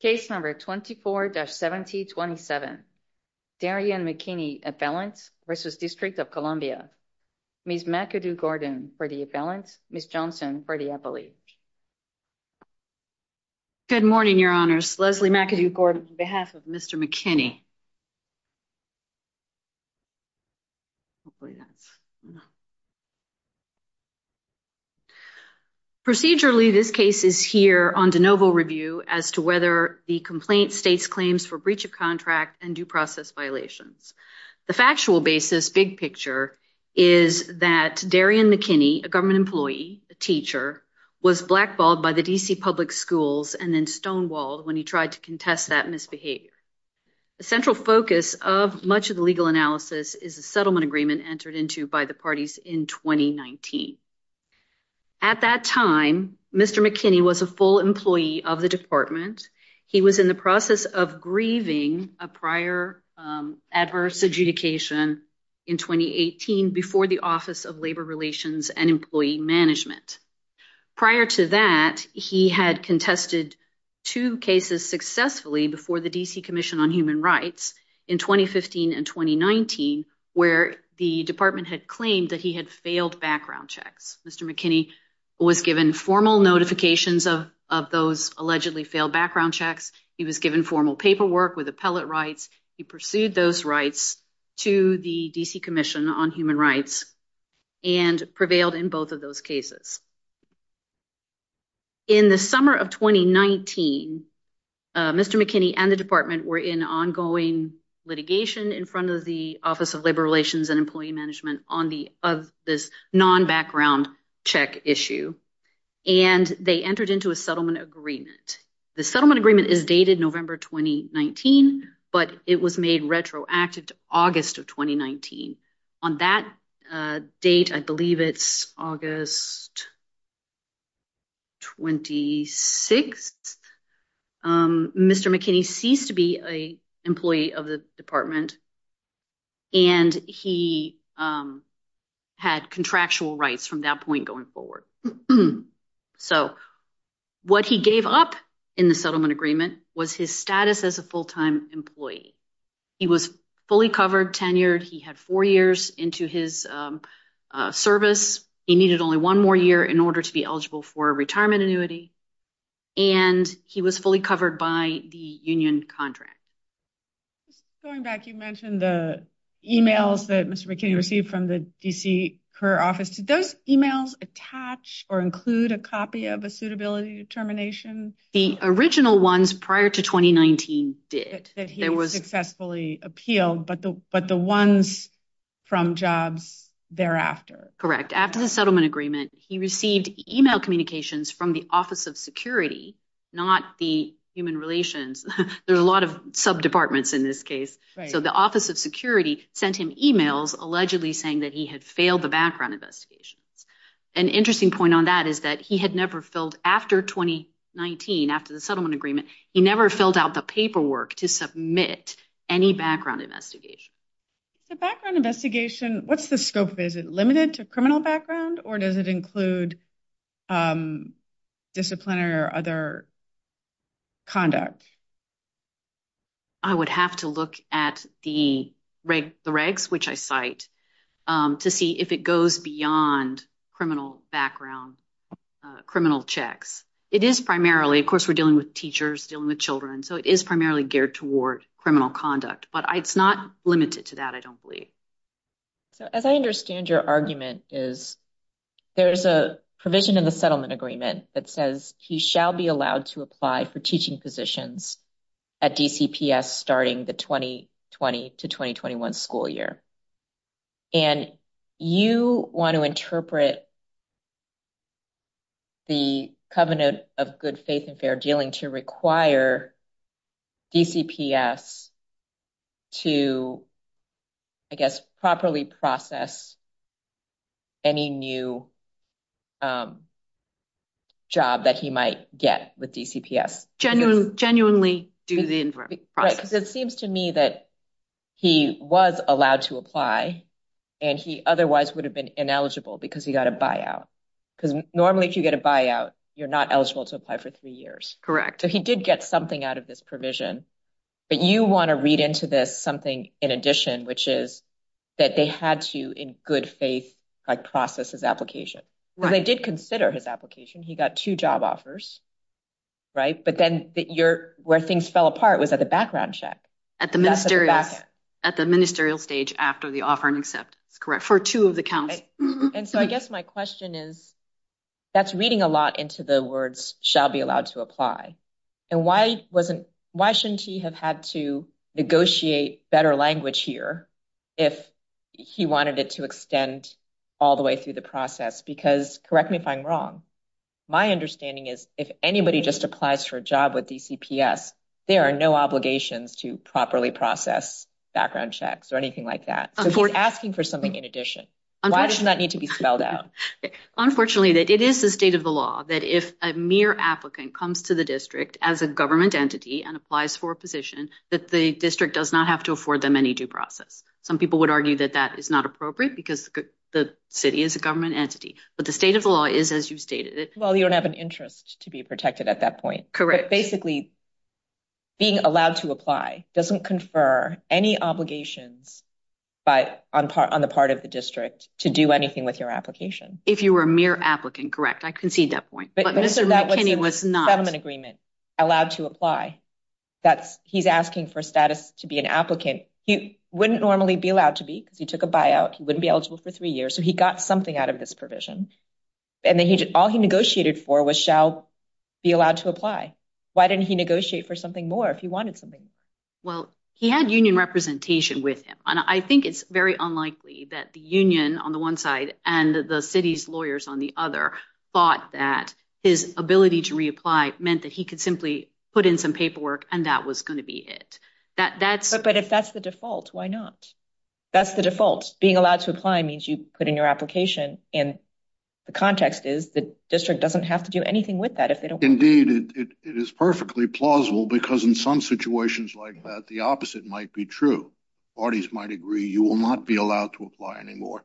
Case number 24-1727, Darian McKinney appellant v. District of Columbia, Ms. McAdoo-Gordon for the appellant, Ms. Johnson for the appellate. Good morning, Your Honors. Leslie McAdoo-Gordon on behalf of Mr. McKinney. Procedurally, this case is here on de novo review as to whether the complaint states claims for breach of contract and due process violations. The factual basis, big picture, is that Darian McKinney, a government employee, a teacher, was blackballed by the DC public schools and then stonewalled when he tried to contest that misbehavior. The central focus of much of the legal analysis is the settlement agreement entered into by the parties in 2019. At that time, Mr. McKinney was a full employee of the department. He was in the process of grieving a prior adverse adjudication in 2018 before the Office of Labor Relations and Employee Management. Prior to that, he had contested two cases successfully before the DC Commission on Human Rights in 2015 and 2019 where the department had claimed that he had failed background checks. Mr. McKinney was given formal notifications of those allegedly failed background checks. He was given formal paperwork with appellate rights. He pursued those rights to the DC Commission on Human Rights and prevailed in both of those cases. In the summer of 2019, Mr. McKinney and the department were in ongoing litigation in front of the Office of Labor Relations and Employee Management on this non-background check issue and they entered into a settlement agreement. The settlement agreement is dated November 2019, but it was made retroactive to August of 2019. On that date, I believe it's August 26th, Mr. McKinney ceased to be an employee of the department, and he had contractual rights from that point going forward. So what he gave up in the settlement agreement was his status as a full-time employee. He was fully covered, tenured, he had four years into his service, he needed only one more year in order to be eligible for a retirement annuity, and he was fully covered by the union contract. Going back, you mentioned the emails that Mr. McKinney received from the DC Career Office. Did those emails attach or include a copy of a suitability determination? The original ones prior to 2019 did. That he successfully appealed, but the ones from jobs thereafter? After the settlement agreement, he received email communications from the Office of Security, not the Human Relations. There are a lot of sub-departments in this case. So the Office of Security sent him emails allegedly saying that he had failed the background investigations. An interesting point on that is that he had never filled, after 2019, after the settlement agreement, he never filled out the paperwork to submit any background investigation. The background investigation, what's the scope of it? Is it limited to criminal background or does it include disciplinary or other conduct? I would have to look at the regs, which I cite, to see if it goes beyond criminal background, criminal checks. It is primarily, of course, we're dealing with teachers, dealing with children, so it is primarily geared toward criminal conduct, but it's not limited to that, I don't believe. As I understand your argument, there's a provision in the settlement agreement that says he shall be allowed to apply for teaching positions at DCPS starting the 2020 to 2021 school year. And you want to interpret the covenant of good faith and fair dealing to require DCPS to, I guess, properly process any new job that he might get with DCPS. Genuinely do the process. It seems to me that he was allowed to apply and he otherwise would have been ineligible because he got a buyout. Because normally, if you get a buyout, you're not eligible to apply for three years. Correct. He did get something out of this provision, but you want to read into this something in addition, which is that they had to, in good faith, process his application. They did consider his application, he got two job offers, but then where things fell apart was at the background check. At the ministerial stage after the offer and acceptance, correct? For two of the counts. And so I guess my question is, that's reading a lot into the words shall be allowed to apply. And why wasn't, why shouldn't he have had to negotiate better language here if he wanted it to extend all the way through the process? Because correct me if I'm wrong, my understanding is if anybody just applies for a job with DCPS, there are no obligations to properly process background checks or anything like that. So he's asking for something in addition. Why does that need to be spelled out? Unfortunately, it is the state of the law that if a mere applicant comes to the district as a government entity and applies for a position, that the district does not have to afford them any due process. Some people would argue that that is not appropriate because the city is a government entity, but the state of the law is as you've stated it. Well, you don't have an interest to be protected at that point. Correct. But basically, being allowed to apply doesn't confer any obligations on the part of the district to do anything with your application. If you were a mere applicant, correct. I concede that point. But Mr. McKinney was not. But that was a settlement agreement, allowed to apply. He's asking for status to be an applicant. He wouldn't normally be allowed to be because he took a buyout. He wouldn't be eligible for three years. So he got something out of this provision. And then all he negotiated for was shall be allowed to apply. Why didn't he negotiate for something more if he wanted something? Well, he had union representation with him. And I think it's very unlikely that the union on the one side and the city's lawyers on the other thought that his ability to reapply meant that he could simply put in some paperwork and that was going to be it. But if that's the default, why not? That's the default. Being allowed to apply means you put in your application. And the context is the district doesn't have to do anything with that if they don't. Indeed, it is perfectly plausible because in some situations like that, the opposite might be true. Parties might agree you will not be allowed to apply anymore.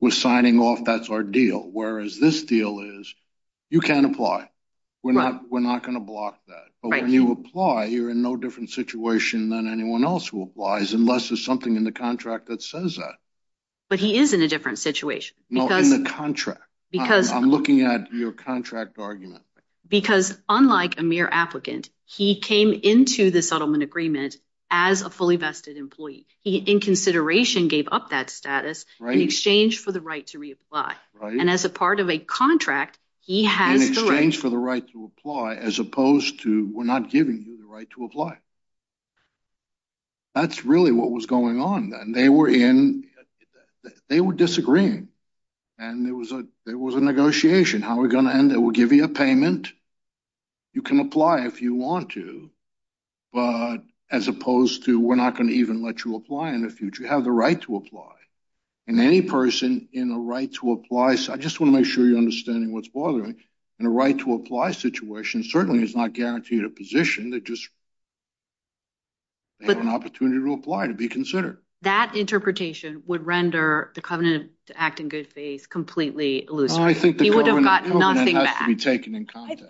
We're signing off. That's our deal. Whereas this deal is you can't apply. We're not we're not going to block that. But when you apply, you're in no different situation than anyone else who applies unless there's something in the contract that says that. But he is in a different situation because the contract, because I'm looking at your contract argument, because unlike a mere applicant, he came into the settlement agreement as a fully vested employee. He, in consideration, gave up that status in exchange for the right to reapply. And as a part of a contract, he has an exchange for the right to apply as opposed to we're not giving you the right to apply. That's really what was going on, and they were in they were disagreeing and there was a there was a negotiation. How are we going to end it? We'll give you a payment. You can apply if you want to, but as opposed to we're not going to even let you apply in the future. You have the right to apply in any person in a right to apply. So I just want to make sure you're understanding what's bothering me and a right to apply situation certainly is not guaranteed a position that just an opportunity to apply to be considered. That interpretation would render the covenant to act in good faith completely illusory. I think he would have gotten nothing to be taken in contact.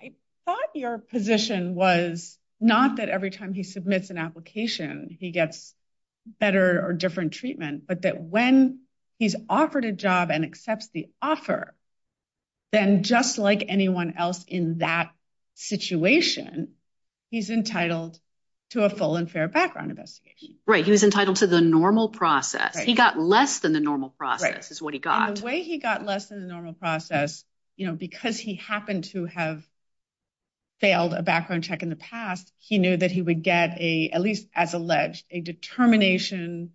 I thought your position was not that every time he submits an application, he gets better or different treatment, but that when he's offered a job and accepts the offer, then just like anyone else in that situation, he's entitled to a full and fair background investigation. Right? He was entitled to the normal process. He got less than the normal process is what he got way. He got less than the normal process, you know, because he happened to have failed a background check in the past. He knew that he would get a at least as alleged a determination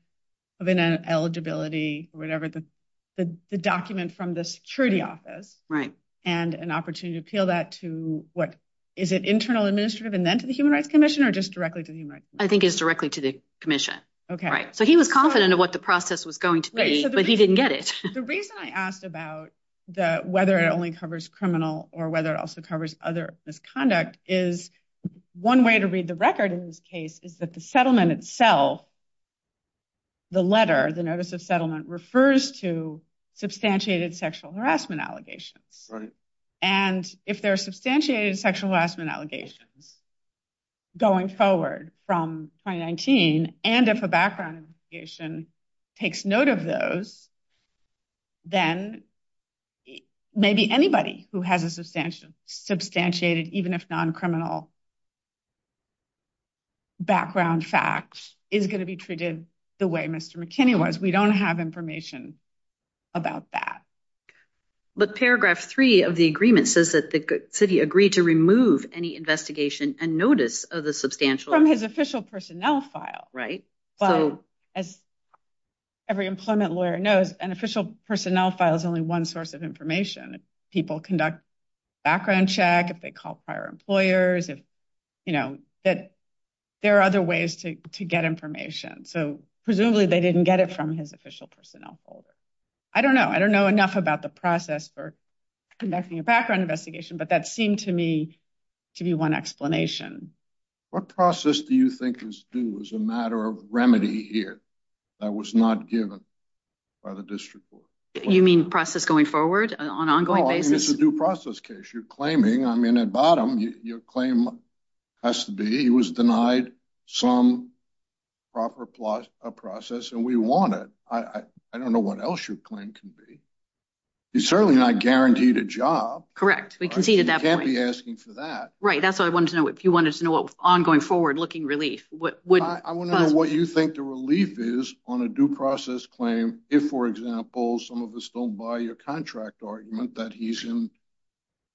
of an eligibility or whatever the document from the security office, right? And an opportunity to appeal that to what is it internal administrative and then to the human rights commission or just directly to the human rights? I think it's directly to the commission. Okay. Right. So he was confident of what the process was going to be, but he didn't get it. The reason I asked about the whether it only covers criminal or whether it also covers other misconduct is one way to read the record in this case is that the settlement itself, the letter, the notice of settlement refers to substantiated sexual harassment allegations. And if there are substantiated sexual harassment allegations going forward from 2019, and if a background takes note of those, then maybe anybody who has a substantial substantiated, even if non-criminal background facts is going to be treated the way Mr. McKinney was. We don't have information about that. But paragraph three of the agreement says that the city agreed to remove any investigation and notice of the substantial from his official personnel file, right? Well, as every employment lawyer knows, an official personnel file is only one source of information. If people conduct background check, if they call prior employers, if, you know, that there are other ways to get information. So presumably they didn't get it from his official personnel folder. I don't know. I don't know enough about the process for conducting a background investigation, but that seemed to me to be one explanation. What process do you think is due as a matter of remedy here that was not given by the district court? You mean process going forward on an ongoing basis? It's a due process case. You're claiming, I mean, at bottom, your claim has to be he was denied some proper process and we want it. I don't know what else your claim can be. He's certainly not guaranteed a job. Correct. We conceded that point. You can't be asking for that. Right. That's what I wanted to know. If you wanted to know what ongoing forward looking relief. I want to know what you think the relief is on a due process claim if, for example, some of us don't buy your contract argument that he's in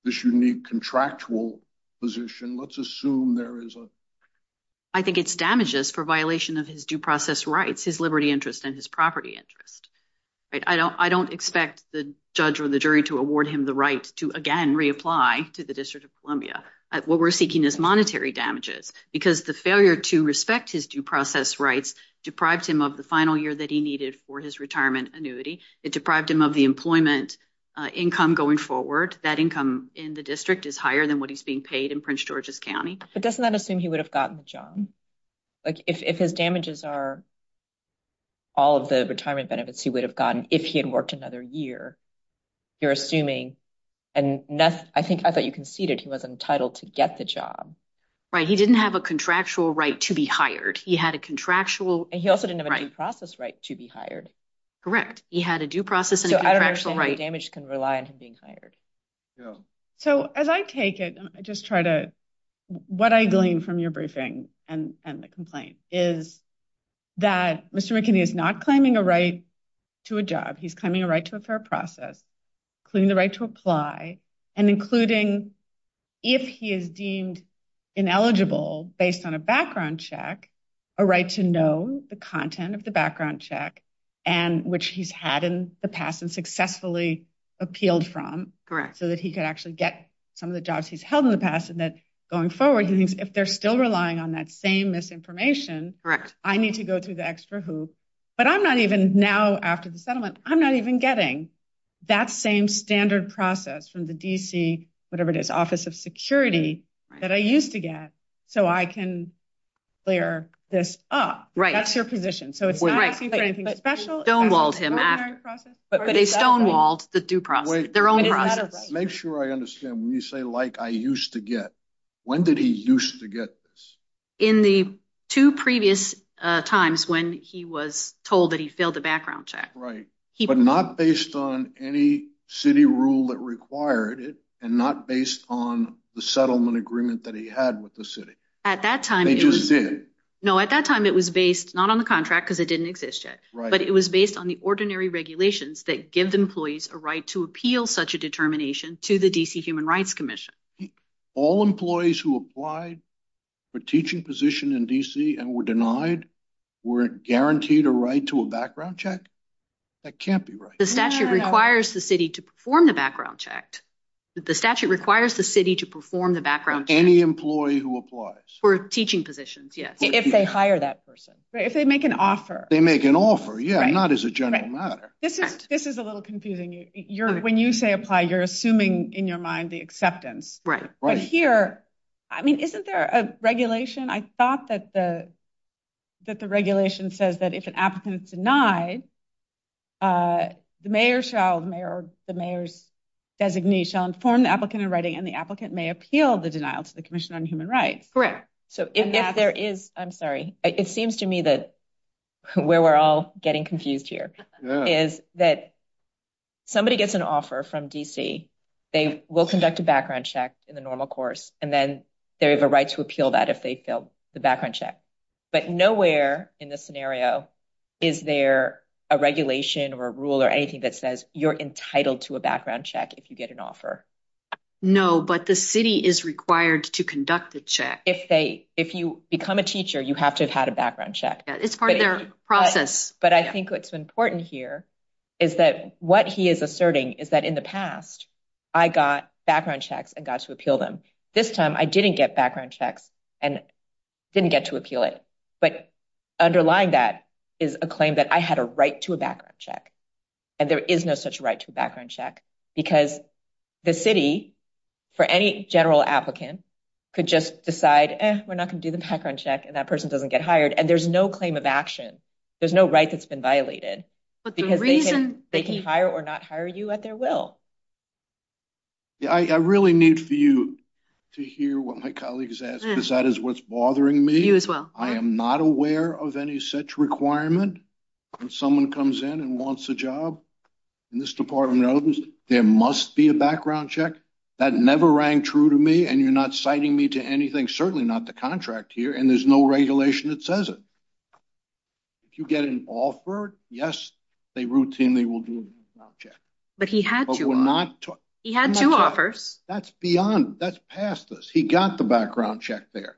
this unique contractual position. Let's assume there is a. I think it's damages for violation of his due process rights, his liberty interest and his property interest. I don't expect the judge or the jury to award him the right to, again, reapply to the District of Columbia. What we're seeking is monetary damages because the failure to respect his due process rights deprived him of the final year that he needed for his retirement annuity. It deprived him of the employment income going forward. That income in the district is higher than what he's being paid in Prince George's County. But doesn't that assume he would have gotten the job if his damages are. All of the retirement benefits he would have gotten if he had worked another year, you're assuming and I think I thought you conceded he was entitled to get the job. Right. He didn't have a contractual right to be hired. He had a contractual and he also didn't have a process right to be hired. Correct. He had a due process. So I don't actually write damage can rely on him being hired. So as I take it, I just try to what I glean from your briefing and the complaint is that Mr. McKinney is not claiming a right to a job. He's claiming a right to a fair process, including the right to apply and including if he is deemed ineligible based on a background check, a right to know the content of the background check and which he's had in the past and successfully appealed from so that he could actually get some of the jobs he's held in the past and that going forward, if they're still relying on that same misinformation, I need to go through the extra hoop. But I'm not even now after the settlement, I'm not even getting that same standard process from the D.C., whatever it is, Office of Security that I used to get. So I can clear this up. Right. That's your position. So it's not asking for anything special. Stonewalled him. But they stonewalled the due process. Their own process. Make sure I understand when you say like I used to get. When did he used to get this? In the two previous times when he was told that he failed the background check. Right. But not based on any city rule that required it and not based on the settlement agreement that he had with the city. At that time. They just did. No, at that time it was based not on the contract because it didn't exist yet, but it was based on the ordinary regulations that give the employees a right to appeal such a determination to the D.C. Human Rights Commission. All employees who applied for teaching position in D.C. and were denied were guaranteed a right to a background check. That can't be right. The statute requires the city to perform the background checked. The statute requires the city to perform the background. Any employee who applies for teaching positions. Yes. If they hire that person. If they make an offer. They make an offer. Yeah. Not as a general matter. This is this is a little confusing. You're when you say apply. You're assuming in your mind the acceptance. Right. Right. Here. I mean, isn't there a regulation? I thought that the that the regulation says that if an applicant is denied, the mayor shall the mayor or the mayor's designee shall inform the applicant in writing and the applicant may appeal the denial to the Commission on Human Rights. Correct. So if there is I'm sorry, it seems to me that where we're all getting confused here is that somebody gets an offer from D.C., they will conduct a background check in the normal course and then they have a right to appeal that if they feel the background check. But nowhere in this scenario is there a regulation or a rule or anything that says you're entitled to a background check if you get an offer. No, but the city is required to conduct the check if they if you become a teacher. You have to have had a background check. It's part of their process. But I think what's important here is that what he is asserting is that in the past, I got background checks and got to appeal them. This time, I didn't get background checks and didn't get to appeal it. But underlying that is a claim that I had a right to a background check and there is no such right to a background check because the city, for any general applicant, could just decide we're not going to do the background check and that person doesn't get hired. And there's no claim of action. There's no right that's been violated, but the reason they can hire or not hire you at their will. Yeah, I really need for you to hear what my colleagues ask, because that is what's bothering me. You as well. I am not aware of any such requirement when someone comes in and wants a job in this department. There must be a background check that never rang true to me. And you're not citing me to anything, certainly not the contract here. And there's no regulation that says if you get an offer, yes, they routinely will do But he had to, he had two offers. That's beyond, that's past this. He got the background check there.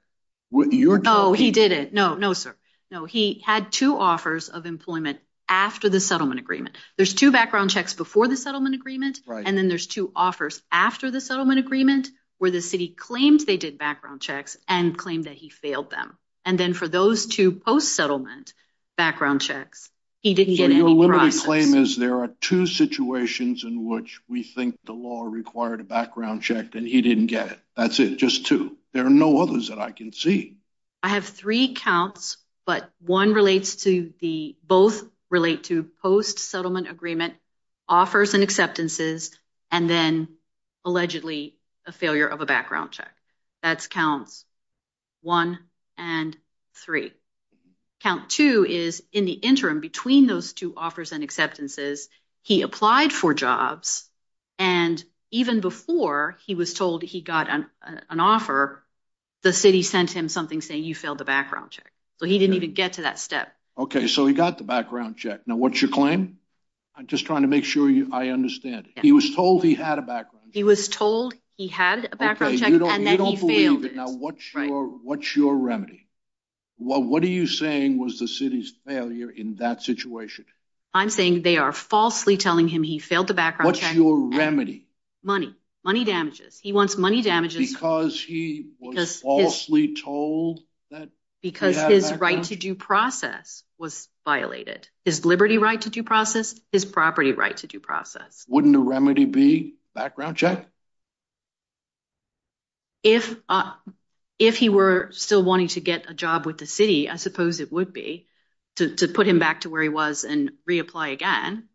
No, he didn't. No, no, sir. No, he had two offers of employment after the settlement agreement. There's two background checks before the settlement agreement. And then there's two offers after the settlement agreement where the city claimed they did background checks and claimed that he failed them. And then for those two post settlement background checks, he didn't get any process. My claim is there are two situations in which we think the law required a background check and he didn't get it. That's it. Just two. There are no others that I can see. I have three counts, but one relates to the, both relate to post settlement agreement offers and acceptances, and then allegedly a failure of a background check. That's counts one and three. Count two is in the interim between those two offers and acceptances, he applied for jobs and even before he was told he got an offer, the city sent him something saying you failed the background check. So he didn't even get to that step. Okay. So he got the background check. Now, what's your claim? I'm just trying to make sure I understand it. He was told he had a background check. He was told he had a background check and then he failed it. Now, what's your remedy? What are you saying was the city's failure in that situation? I'm saying they are falsely telling him he failed the background check. What's your remedy? Money damages. He wants money damages. Because he was falsely told that he had a background check? Because his right to due process was violated. His liberty right to due process, his property right to due process. Wouldn't a remedy be background check? If he were still wanting to get a job with the city, I suppose it would be to put him back to where he was and reapply again,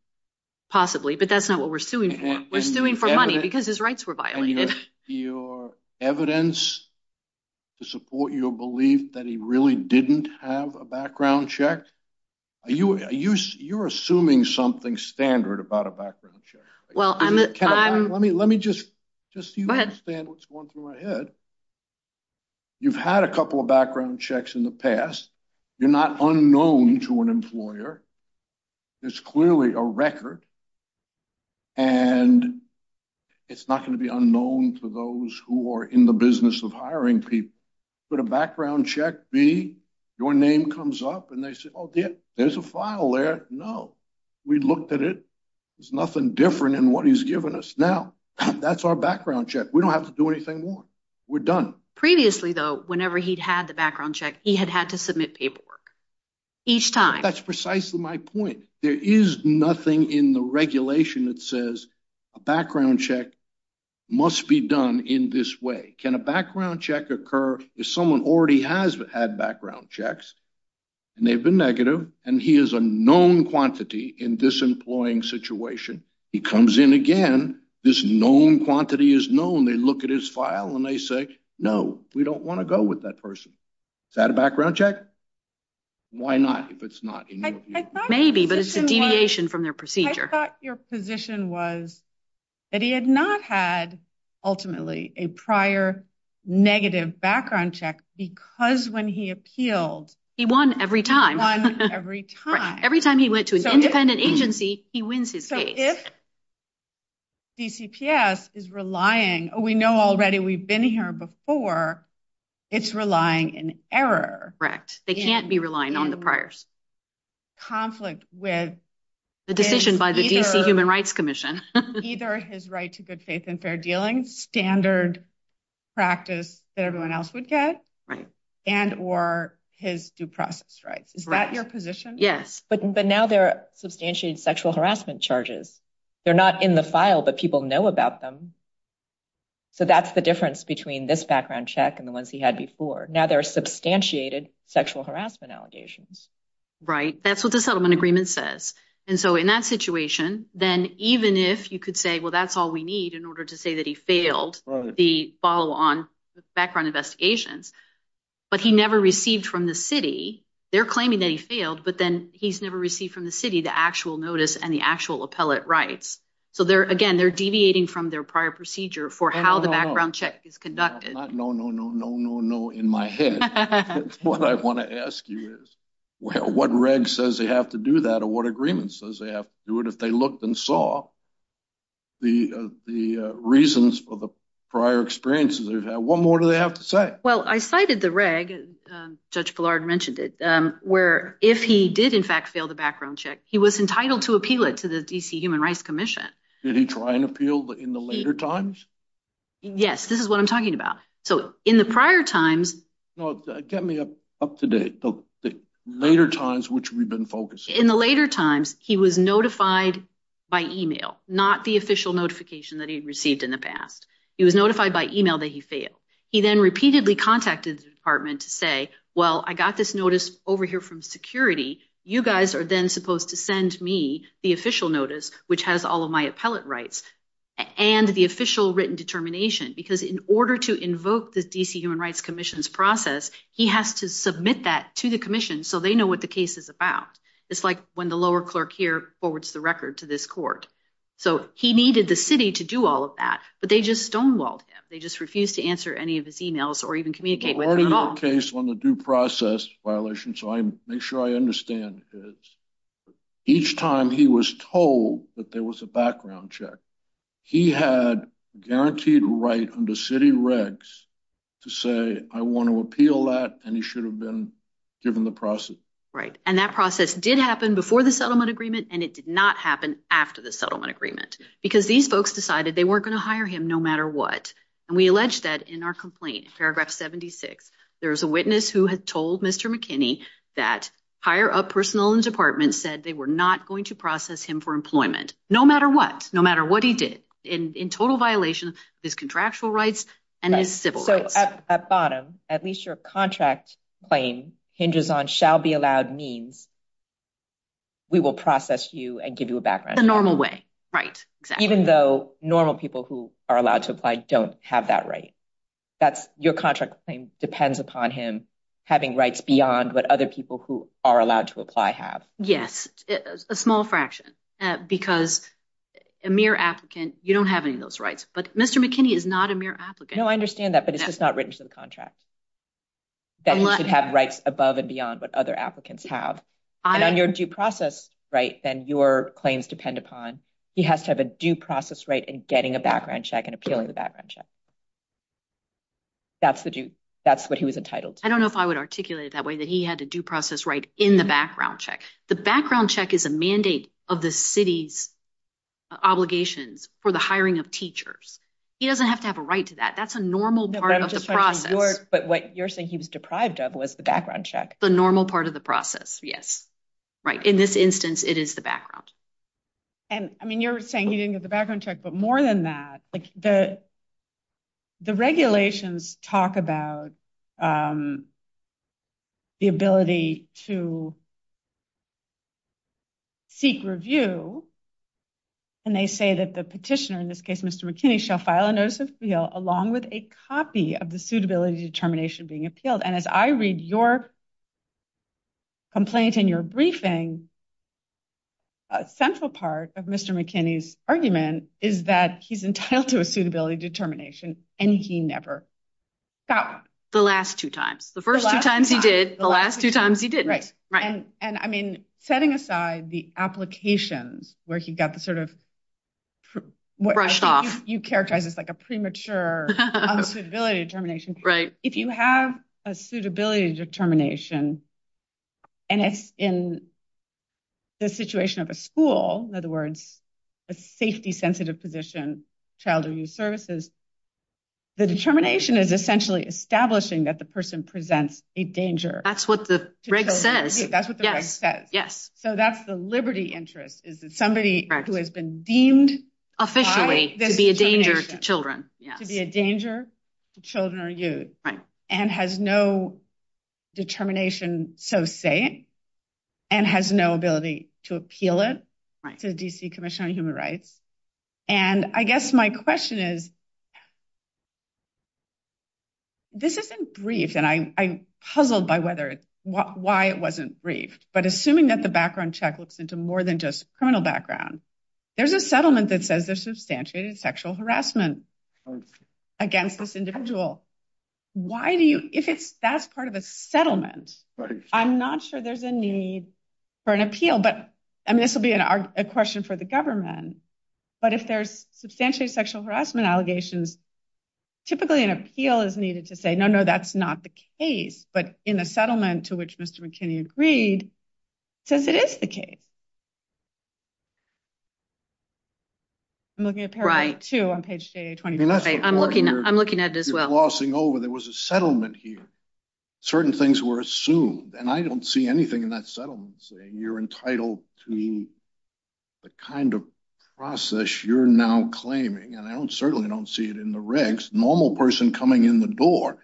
possibly. But that's not what we're suing for. We're suing for money because his rights were violated. And your evidence to support your belief that he really didn't have a background check? You're assuming something standard about a background check. Well, I'm... Let me just... Just so you understand what's going through my head. You've had a couple of background checks in the past. You're not unknown to an employer. There's clearly a record. And it's not going to be unknown to those who are in the business of hiring people. But a background check, B, your name comes up and they say, oh, there's a file there. No. We looked at it. There's nothing different in what he's given us now. That's our background check. We don't have to do anything more. We're done. Previously, though, whenever he'd had the background check, he had had to submit paperwork. Each time. That's precisely my point. There is nothing in the regulation that says a background check must be done in this way. Can a background check occur if someone already has had background checks and they've been in a hiring situation, he comes in again, this known quantity is known, they look at his file and they say, no, we don't want to go with that person. Is that a background check? Why not? If it's not... Maybe, but it's a deviation from their procedure. I thought your position was that he had not had ultimately a prior negative background check because when he appealed... He won every time. He won every time. Every time he went to an independent agency, he wins his case. So if DCPS is relying, we know already we've been here before, it's relying in error. Correct. They can't be relying on the priors. Conflict with... The decision by the DC Human Rights Commission. Either his right to good faith and fair dealing, standard practice that everyone else would get and or his due process rights. Is that your position? Yes. But now there are substantiated sexual harassment charges. They're not in the file, but people know about them. So that's the difference between this background check and the ones he had before. Now there are substantiated sexual harassment allegations. Right. That's what the settlement agreement says. And so in that situation, then even if you could say, well, that's all we need in order to say that he failed the follow on background investigations, but he never received from the city, they're claiming that he failed, but then he's never received from the city the actual notice and the actual appellate rights. So there again, they're deviating from their prior procedure for how the background check is conducted. No, no, no, no, no, no. In my head, what I want to ask you is, well, what reg says they have to do that or what agreement says they have to do it? If they looked and saw the reasons for the prior experiences they've had, what more do they have to say? Well, I cited the reg, Judge Pillard mentioned it, where if he did, in fact, fail the background check, he was entitled to appeal it to the D.C. Human Rights Commission. Did he try and appeal in the later times? Yes, this is what I'm talking about. So in the prior times. No, get me up to date, the later times which we've been focused in the later times, he was notified by email, not the official notification that he received in the past. He was notified by email that he failed. He then repeatedly contacted the department to say, well, I got this notice over here from security. You guys are then supposed to send me the official notice, which has all of my appellate rights and the official written determination, because in order to invoke the D.C. Human Rights Commission's process, he has to submit that to the commission so they know what the case is about. It's like when the lower clerk here forwards the record to this court. So he needed the city to do all of that. But they just stonewalled him. They just refused to answer any of his emails or even communicate with the case on the due process violation. So I make sure I understand each time he was told that there was a background check, he had guaranteed right under city regs to say, I want to appeal that. And he should have been given the process. Right. And that process did happen before the settlement agreement. And it did not happen after the settlement agreement because these folks decided they weren't going to hire him no matter what. And we allege that in our complaint, Paragraph 76, there is a witness who had told Mr. McKinney that higher up personnel in the department said they were not going to process him for employment no matter what, no matter what he did in total violation of his contractual rights and his civil rights. So at bottom, at least your contract claim hinges on shall be allowed means. We will process you and give you a background in a normal way, right, even though normal people who are allowed to apply don't have that right. That's your contract claim depends upon him having rights beyond what other people who are allowed to apply have. Yes, a small fraction because a mere applicant, you don't have any of those rights. But Mr. McKinney is not a mere applicant. No, I understand that. But it's just not written to the contract. Then you should have rights above and beyond what other applicants have. And on your due process, right, then your claims depend upon he has to have a due process right and getting a background check and appealing the background check. That's the that's what he was entitled. I don't know if I would articulate it that way, that he had to due process right in the background check. The background check is a mandate of the city's obligations for the hiring of teachers. He doesn't have to have a right to that. That's a normal part of the process. But what you're saying he was deprived of was the background check. The normal part of the process. Yes. Right. In this instance, it is the background. And I mean, you're saying he didn't get the background check, but more than that, like the. The regulations talk about. The ability to. Seek review. And they say that the petitioner, in this case, Mr. McKinney, shall file a notice of appeal along with a copy of the suitability determination being appealed, and as I read your. Complaint in your briefing. Central part of Mr. McKinney's argument is that he's entitled to a suitability determination and he never got the last two times, the first two times he did the last two times he did. Right. Right. And I mean, setting aside the applications where he got the sort of. Brushed off, you characterize this like a premature suitability determination. Right. If you have a suitability determination. And it's in. The situation of a school, in other words, a safety sensitive position, child or youth services. The determination is essentially establishing that the person presents a danger. That's what the reg says. That's what the rest says. Yes. So that's the liberty interest is that somebody who has been deemed officially to be a danger to children, to be a danger to children or youth and has no determination. So saying and has no ability to appeal it to the D.C. Commission on Human Rights. And I guess my question is. This isn't brief, and I'm puzzled by whether why it wasn't brief, but assuming that the background check looks into more than just criminal background, there's a settlement that says there's substantiated sexual harassment against this individual. Why do you if it's that's part of a settlement, I'm not sure there's a need for an appeal, but I mean, this will be a question for the government. But if there's substantiated sexual harassment allegations, typically an appeal is needed to say, no, no, that's not the case. But in the settlement to which Mr. McKinney agreed, says it is the case. I'm looking at two on page twenty, I'm looking I'm looking at it as well. And I'm just crossing over, there was a settlement here. Certain things were assumed and I don't see anything in that settlement saying you're entitled to the kind of process you're now claiming. And I don't certainly don't see it in the regs. Normal person coming in the door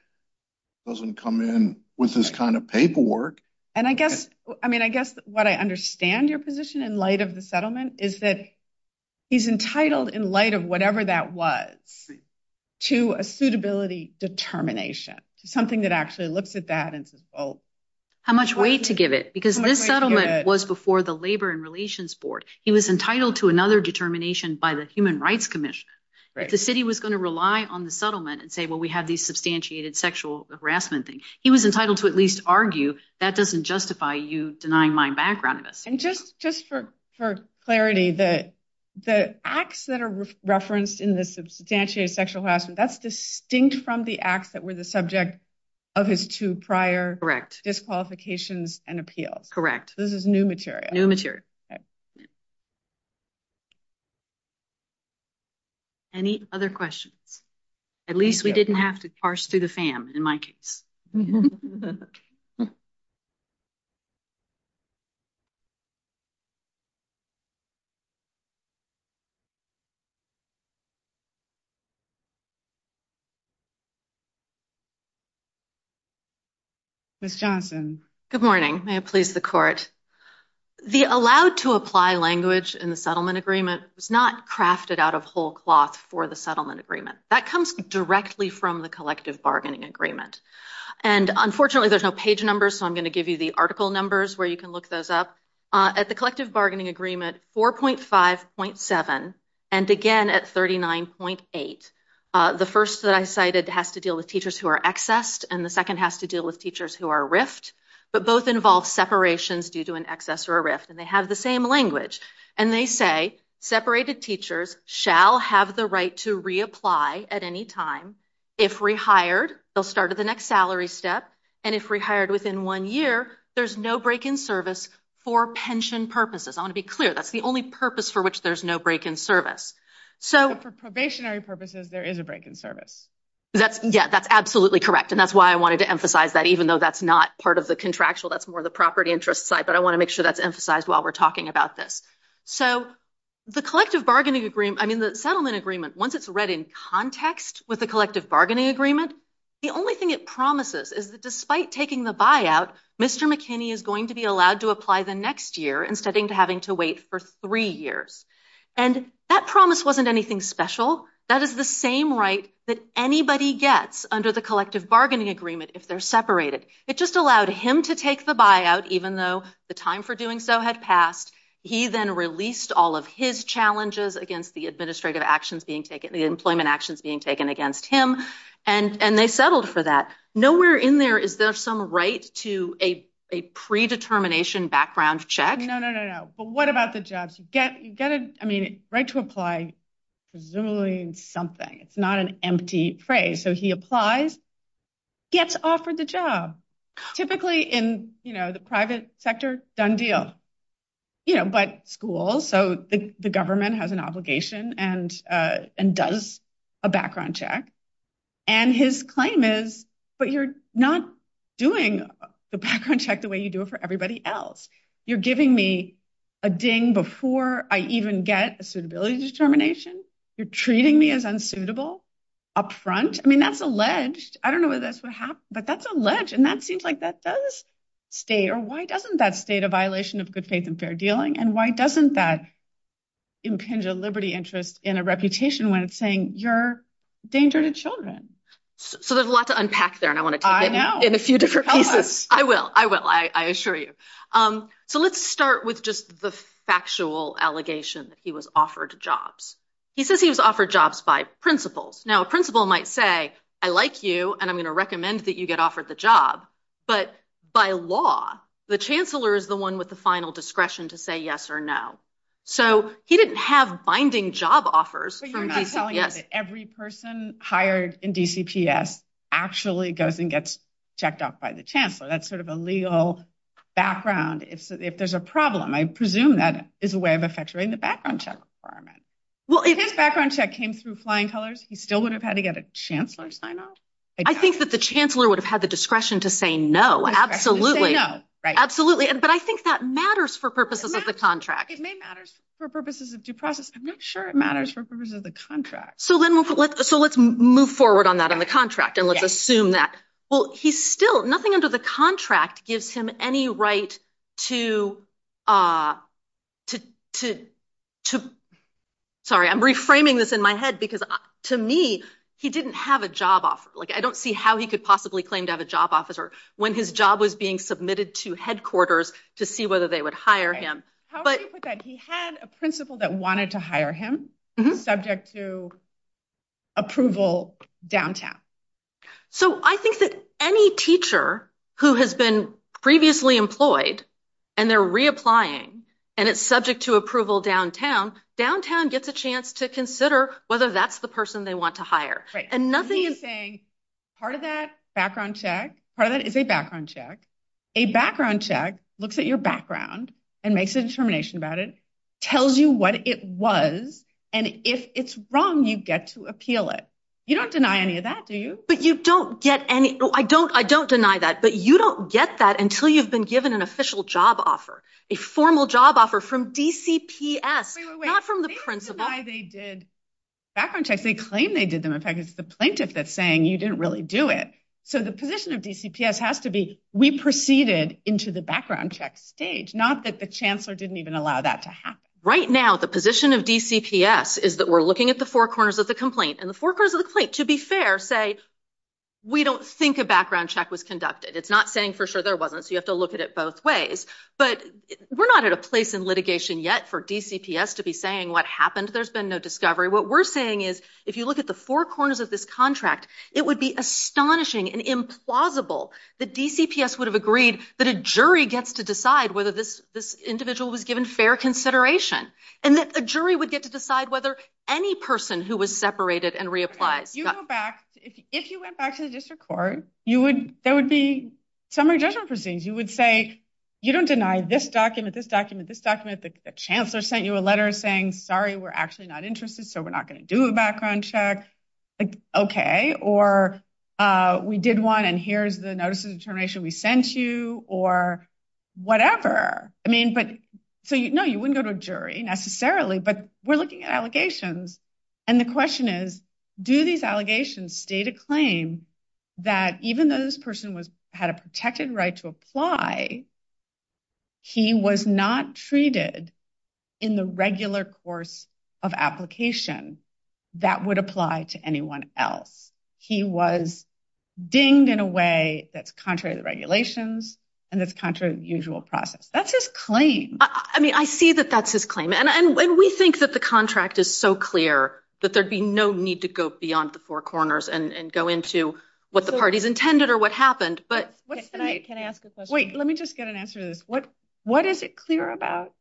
doesn't come in with this kind of paperwork. And I guess I mean, I guess what I understand your position in light of the settlement is that he's entitled in light of whatever that was to a suitability determination to something that actually looks at that and says, well, how much weight to give it? Because this settlement was before the Labor and Relations Board. He was entitled to another determination by the Human Rights Commission. The city was going to rely on the settlement and say, well, we have these substantiated sexual harassment thing. He was entitled to at least argue that doesn't justify you denying my background. And just for clarity, the acts that are referenced in the substantiated sexual harassment, that's distinct from the acts that were the subject of his two prior disqualifications and appeals. Correct. This is new material, new material. Any other questions? At least we didn't have to parse through the FAM in my case. Ms. Johnson, good morning. May it please the court. The allowed to apply language in the settlement agreement was not crafted out of whole cloth for the settlement agreement that comes directly from the collective bargaining agreement. And unfortunately, there's no page numbers. So I'm going to give you the article numbers where you can look those up at the collective bargaining agreement. Four point five point seven. And again, at thirty nine point eight. The first that I cited has to deal with teachers who are accessed and the second has to deal with teachers who are rift. But both involve separations due to an excess or a rift. And they have the same language. And they say separated teachers shall have the right to reapply at any time. If rehired, they'll start at the next salary step. And if rehired within one year, there's no break in service for pension purposes. I want to be clear. That's the only purpose for which there's no break in service. So for probationary purposes, there is a break in service. That's yeah, that's absolutely correct. And that's why I wanted to emphasize that even though that's not part of the contractual, that's more the property interest side. But I want to make sure that's emphasized while we're talking about this. So the collective bargaining agreement, I mean, the settlement agreement, once it's read in context with the collective bargaining agreement, the only thing it promises is that despite taking the buyout, Mr. McKinney is going to be allowed to apply the next year instead of having to wait for three years. And that promise wasn't anything special. That is the same right that anybody gets under the collective bargaining agreement if they're separated. It just allowed him to take the buyout, even though the time for doing so had passed. He then released all of his challenges against the administrative actions being taken, the employment actions being taken against him. And they settled for that. Nowhere in there is there some right to a predetermination background check. No, no, no, no. But what about the jobs you get? You get it. I mean, right to apply, presumably something. It's not an empty phrase. So he applies, gets offered the job, typically in the private sector, done deal. You know, but schools, so the government has an obligation and and does a background check and his claim is, but you're not doing the background check the way you do it for everybody else. You're giving me a ding before I even get a suitability determination. You're treating me as unsuitable up front. I mean, that's alleged. I don't know whether that's what happened, but that's alleged. And that seems like that does stay. Or why doesn't that state a violation of good faith and fair dealing? And why doesn't that impinge a liberty interest in a reputation when it's saying you're danger to children? So there's a lot to unpack there. And I want to know in a few different pieces. I will. I will. I assure you. So let's start with just the factual allegation that he was offered jobs. He says he was offered jobs by principals. Now, a principal might say, I like you and I'm going to recommend that you get offered the job. But by law, the chancellor is the one with the final discretion to say yes or no. So he didn't have binding job offers. So you're not telling us that every person hired in DCPS actually goes and gets checked off by the chancellor. That's sort of a legal background. If there's a problem, I presume that is a way of effectuating the background check requirement. Well, his background check came through Flying Colors. He still would have had to get a chancellor sign up. I think that the chancellor would have had the discretion to say no. Absolutely. No, absolutely. But I think that matters for purposes of the contract. It may matters for purposes of due process. I'm not sure it matters for purposes of the contract. So then so let's move forward on that in the contract and let's assume that. Well, he's still nothing under the contract gives him any right to to to to. Sorry, I'm reframing this in my head because to me, he didn't have a job offer. Like, I don't see how he could possibly claim to have a job officer when his job was being submitted to headquarters to see whether they would hire him. But he had a principal that wanted to hire him subject to approval downtown. So I think that any teacher who has been previously employed and they're reapplying and it's subject to approval downtown, downtown gets a chance to consider whether that's the person they want to hire. And nothing is saying part of that background check. Part of that is a background check. A background check looks at your background and makes a determination about it, tells you what it was. And if it's wrong, you get to appeal it. You don't deny any of that, do you? But you don't get any. I don't I don't deny that. But you don't get that until you've been given an official job offer, a formal job offer from DCPS, not from the principal. Wait, wait, wait. They didn't deny they did background checks. They claim they did them. In fact, it's the plaintiff that's saying you didn't really do it. So the position of DCPS has to be we proceeded into the background check stage, not that the chancellor didn't even allow that to happen. Right now, the position of DCPS is that we're looking at the four corners of the complaint and the four corners of the complaint, to be fair, say we don't think a background check was conducted. It's not saying for sure there wasn't. So you have to look at it both ways. But we're not at a place in litigation yet for DCPS to be saying what happened. There's been no discovery. What we're saying is if you look at the four corners of this contract, it would be astonishing and implausible that DCPS would have agreed that a jury gets to decide whether this this individual was given fair consideration and that a jury would get to decide whether any person who was separated and reapplies. You go back. If you went back to the district court, you would there would be summary judgment proceedings. You would say you don't deny this document, this document, this document. The chancellor sent you a letter saying, sorry, we're actually not interested. So we're not going to do a background check. OK, or we did one. And here's the notices of termination we sent you or whatever. I mean, but so, you know, you wouldn't go to a jury necessarily. But we're looking at allegations. And the question is, do these allegations state a claim that even though this person was had a protected right to apply. He was not treated in the regular course of application that would apply to anyone else. He was dinged in a way that's contrary to the regulations and that's contrary to the usual process. That's his claim. I mean, I see that that's his claim. And we think that the contract is so clear that there'd be no need to go beyond the corners and go into what the party's intended or what happened. But can I ask a question? Wait, let me just get an answer to this. What what is it clear about?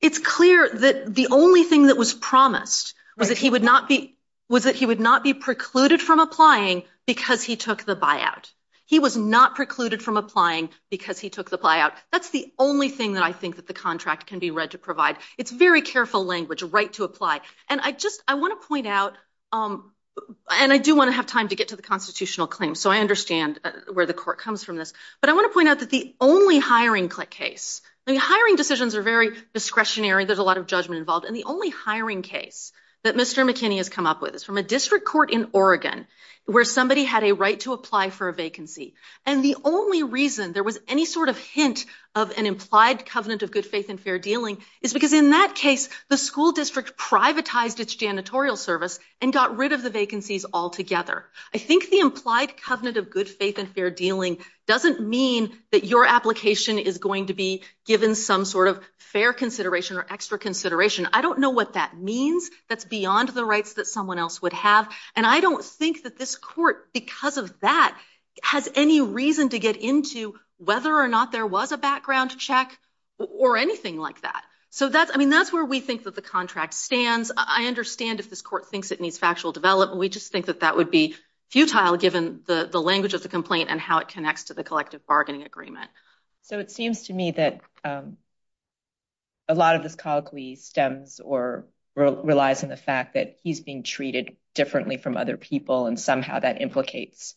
It's clear that the only thing that was promised was that he would not be was that he would not be precluded from applying because he took the buyout. He was not precluded from applying because he took the buyout. That's the only thing that I think that the contract can be read to provide. It's very careful language right to apply. And I just I want to point out and I do want to have time to get to the constitutional claim. So I understand where the court comes from this. But I want to point out that the only hiring case, the hiring decisions are very discretionary. There's a lot of judgment involved in the only hiring case that Mr. McKinney has come up with is from a district court in Oregon where somebody had a right to apply for a vacancy. And the only reason there was any sort of hint of an implied covenant of good faith and fair dealing is because in that case, the school district privatized its janitorial service and got rid of the vacancies altogether. I think the implied covenant of good faith and fair dealing doesn't mean that your application is going to be given some sort of fair consideration or extra consideration. I don't know what that means. That's beyond the rights that someone else would have. And I don't think that this court, because of that, has any reason to get into whether or not there was a background check or anything like that. So that's I mean, that's where we think that the contract stands. I understand if this court thinks it needs factual development, we just think that that would be futile given the language of the complaint and how it connects to the collective bargaining agreement. So it seems to me that a lot of this colloquy stems or relies on the fact that he's being treated differently from other people and somehow that implicates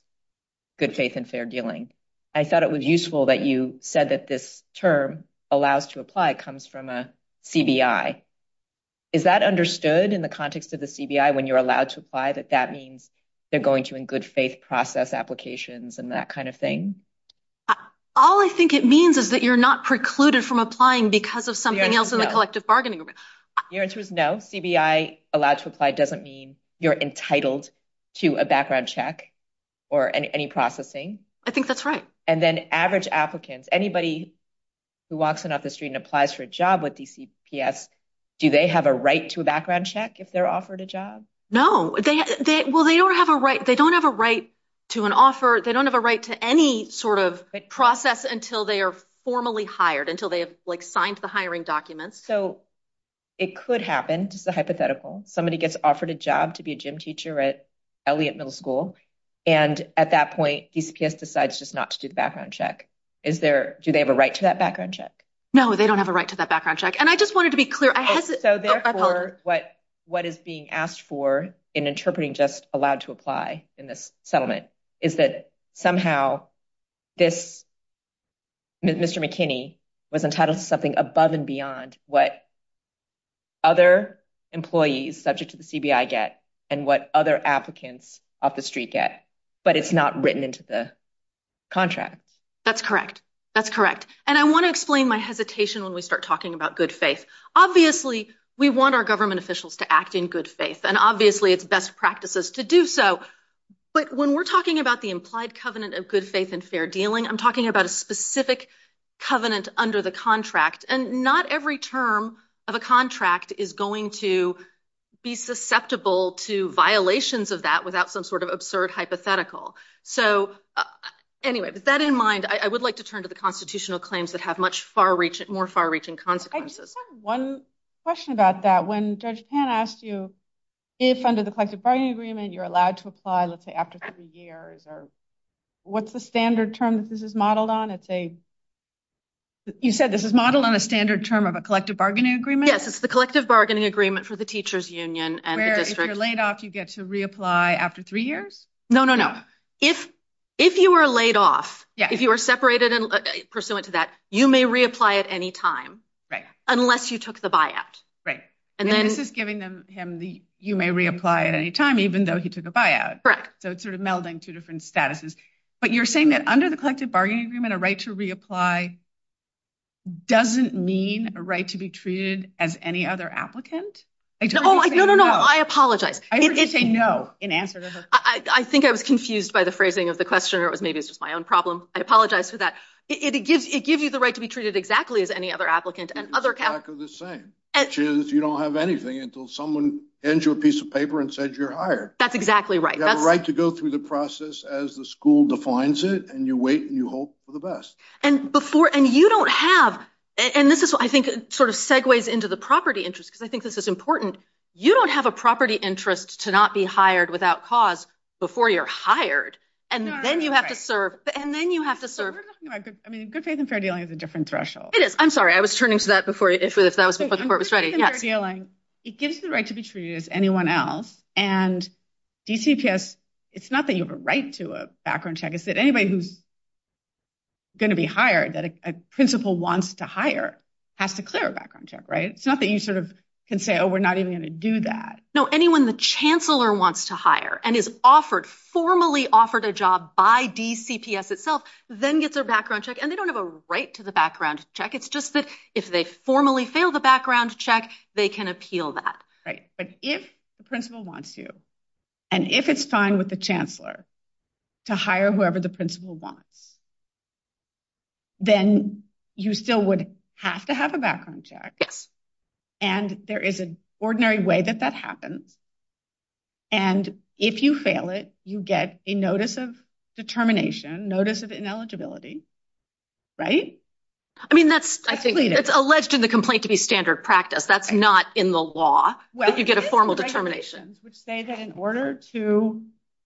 good faith and fair dealing. I thought it was useful that you said that this term allows to apply comes from a CBI. Is that understood in the context of the CBI when you're allowed to apply that that means they're going to in good faith process applications and that kind of thing? All I think it means is that you're not precluded from applying because of something else in the collective bargaining agreement. Your answer is no. CBI allowed to apply doesn't mean you're entitled to a background check or any processing. I think that's right. And then average applicants, anybody who walks in off the street and applies for a job with DCPS, do they have a right to a background check if they're offered a job? No, they well, they don't have a right. They don't have a right to an offer. They don't have a right to any sort of process until they are formally hired, until they have signed the hiring documents. So it could happen. Just a hypothetical. Somebody gets offered a job to be a gym teacher at Elliott Middle School. And at that point, DCPS decides just not to do the background check. Is there do they have a right to that background check? No, they don't have a right to that background check. And I just wanted to be clear. So therefore, what what is being asked for in interpreting just allowed to apply in this settlement is that somehow this Mr. McKinney was entitled to something above and beyond what. Other employees subject to the CBI get and what other applicants off the street get, but it's not written into the contract, that's correct, that's correct. And I want to explain my hesitation when we start talking about good faith. Obviously, we want our government officials to act in good faith and obviously it's best practices to do so. But when we're talking about the implied covenant of good faith and fair dealing, I'm talking about a specific covenant under the contract and not every term of a contract is going to be susceptible to violations of that without some sort of absurd hypothetical. So anyway, with that in mind, I would like to turn to the constitutional claims that have much far reaching, more far reaching consequences. One question about that. When Judge Pan asked you if under the collective bargaining agreement you're allowed to reapply, let's say after three years or what's the standard term that this is modeled on? It's a. You said this is modeled on a standard term of a collective bargaining agreement. Yes, it's the collective bargaining agreement for the teachers union and the district. Where if you're laid off, you get to reapply after three years? No, no, no. If if you were laid off, if you were separated pursuant to that, you may reapply at any time. Right. Unless you took the buyout. Right. And then this is giving him the you may reapply at any time, even though he took a buyout. So it's sort of melding two different statuses. But you're saying that under the collective bargaining agreement, a right to reapply. Doesn't mean a right to be treated as any other applicant. I don't know. I apologize. I would say no. In answer to her, I think I was confused by the phrasing of the questioner was maybe it's just my own problem. I apologize for that. It gives it gives you the right to be treated exactly as any other applicant and other kind of the same as you don't have anything until someone hands you a piece of paper and says you're hired. That's exactly right. You have a right to go through the process as the school defines it. And you wait and you hope for the best. And before and you don't have and this is what I think sort of segues into the property interest, because I think this is important. You don't have a property interest to not be hired without cause before you're hired. And then you have to serve and then you have to serve. I mean, good faith and fair dealing is a different threshold. It is. I'm sorry. I was turning to that before. If that was before the court was ready. Fair dealing. It gives the right to be treated as anyone else. And DCPS, it's not that you have a right to a background check. Is that anybody who's. Going to be hired that a principal wants to hire has to clear a background check, right? It's not that you sort of can say, oh, we're not even going to do that. No, anyone the chancellor wants to hire and is offered formally offered a job by DCPS itself, then gets a background check and they don't have a right to the background check. It's just that if they formally fail the background check, they can appeal that. Right. But if the principal wants you and if it's fine with the chancellor to hire whoever the principal wants. Then you still would have to have a background check. Yes. And there is an ordinary way that that happens. And if you fail it, you get a notice of determination, notice of ineligibility. Right. I mean, that's I think it's alleged in the complaint to be standard practice. That's not in the law. Well, you get a formal determination, which say that in order to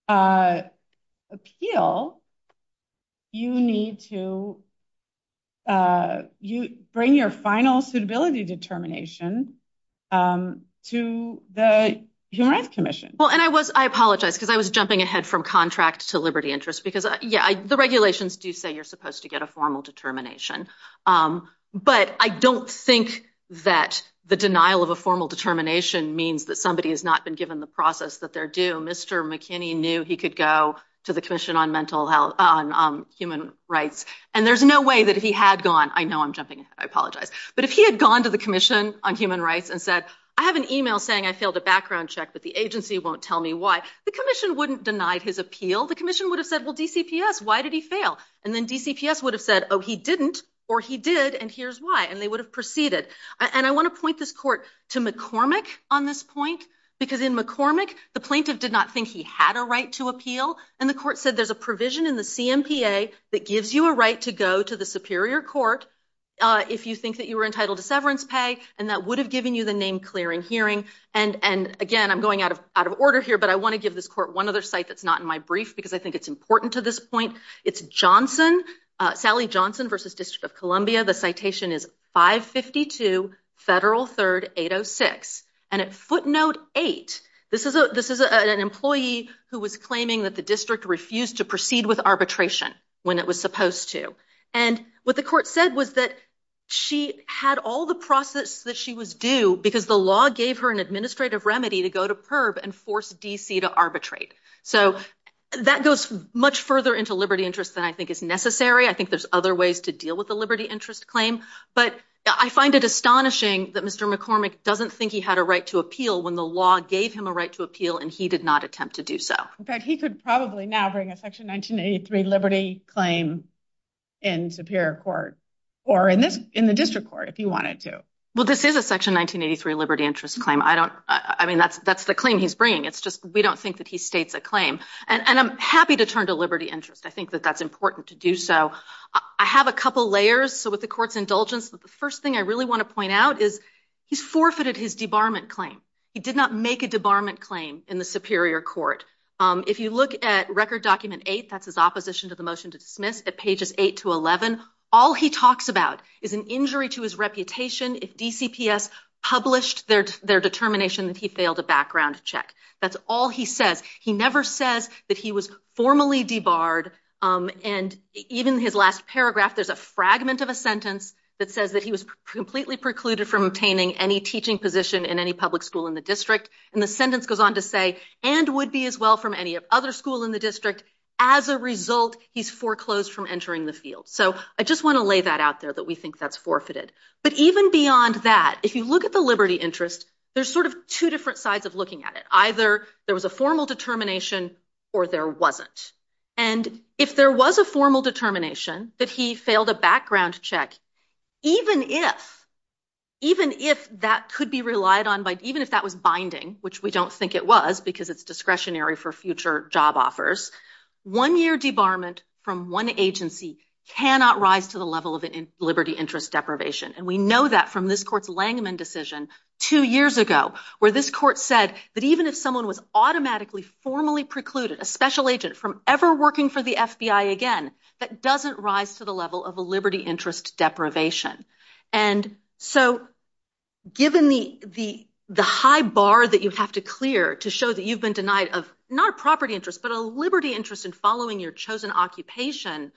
appeal. You need to. You bring your final suitability determination to the Human Rights Commission. Well, and I was I apologize because I was jumping ahead from contract to liberty interest, because, yeah, the regulations do say you're supposed to get a formal determination. But I don't think that the denial of a formal determination means that somebody has not been given the process that they're due. Mr. McKinney knew he could go to the Commission on Mental Health, Human Rights, and there's no way that he had gone. I know I'm jumping. I apologize. But if he had gone to the Commission on Human Rights and said, I have an email saying I failed a background check, but the agency won't tell me why the commission wouldn't denied his appeal, the commission would have said, well, DCPS, why did he fail? And then DCPS would have said, oh, he didn't or he did. And here's why. And they would have proceeded. And I want to point this court to McCormick on this point, because in McCormick, the plaintiff did not think he had a right to appeal. And the court said there's a provision in the CMPA that gives you a right to go to the superior court if you think that you were entitled to severance pay and that would have given you the name clearing hearing. And and again, I'm going out of out of order here, but I want to give this court one other site that's not in my brief because I think it's important to this point. It's Johnson, Sally Johnson versus District of Columbia. The citation is 552 Federal 3rd 806. And at footnote eight, this is a this is an employee who was claiming that the district refused to proceed with arbitration when it was supposed to. And what the court said was that she had all the process that she was due because the law gave her an administrative remedy to go to Perb and force D.C. to arbitrate. So that goes much further into liberty interest than I think is necessary. I think there's other ways to deal with the liberty interest claim. But I find it astonishing that Mr. McCormick doesn't think he had a right to appeal when the law gave him a right to appeal. And he did not attempt to do so. But he could probably now bring a Section 1983 liberty claim in superior court or in this in the district court if he wanted to. Well, this is a Section 1983 liberty interest claim. I don't I mean, that's that's the claim he's bringing. It's just we don't think that he states a claim. And I'm happy to turn to liberty interest. I think that that's important to do. So I have a couple layers. So with the court's indulgence, the first thing I really want to point out is he's forfeited his debarment claim. He did not make a debarment claim in the superior court. If you look at record document eight, that's his opposition to the motion to dismiss at pages eight to 11. All he talks about is an injury to his reputation if DCPS published their their determination that he failed a background check. That's all he says. He never says that he was formally debarred. And even his last paragraph, there's a fragment of a sentence that says that he was completely precluded from obtaining any teaching position in any public school in the district. And the sentence goes on to say and would be as well from any other school in the district. As a result, he's foreclosed from entering the field. So I just want to lay that out there that we think that's forfeited. But even beyond that, if you look at the liberty interest, there's sort of two different sides of looking at it. Either there was a formal determination or there wasn't. And if there was a formal determination that he failed a background check, even if even if that could be relied on by even if that was binding, which we don't think it was because it's discretionary for future job offers. One year debarment from one agency cannot rise to the level of liberty interest deprivation. And we know that from this court's Langman decision two years ago, where this court said that even if someone was automatically formally precluded a special agent from ever working for the FBI again, that doesn't rise to the level of a liberty interest deprivation. And so given the the the high bar that you have to clear to show that you've been denied of not a property interest, but a liberty interest in following your chosen occupation,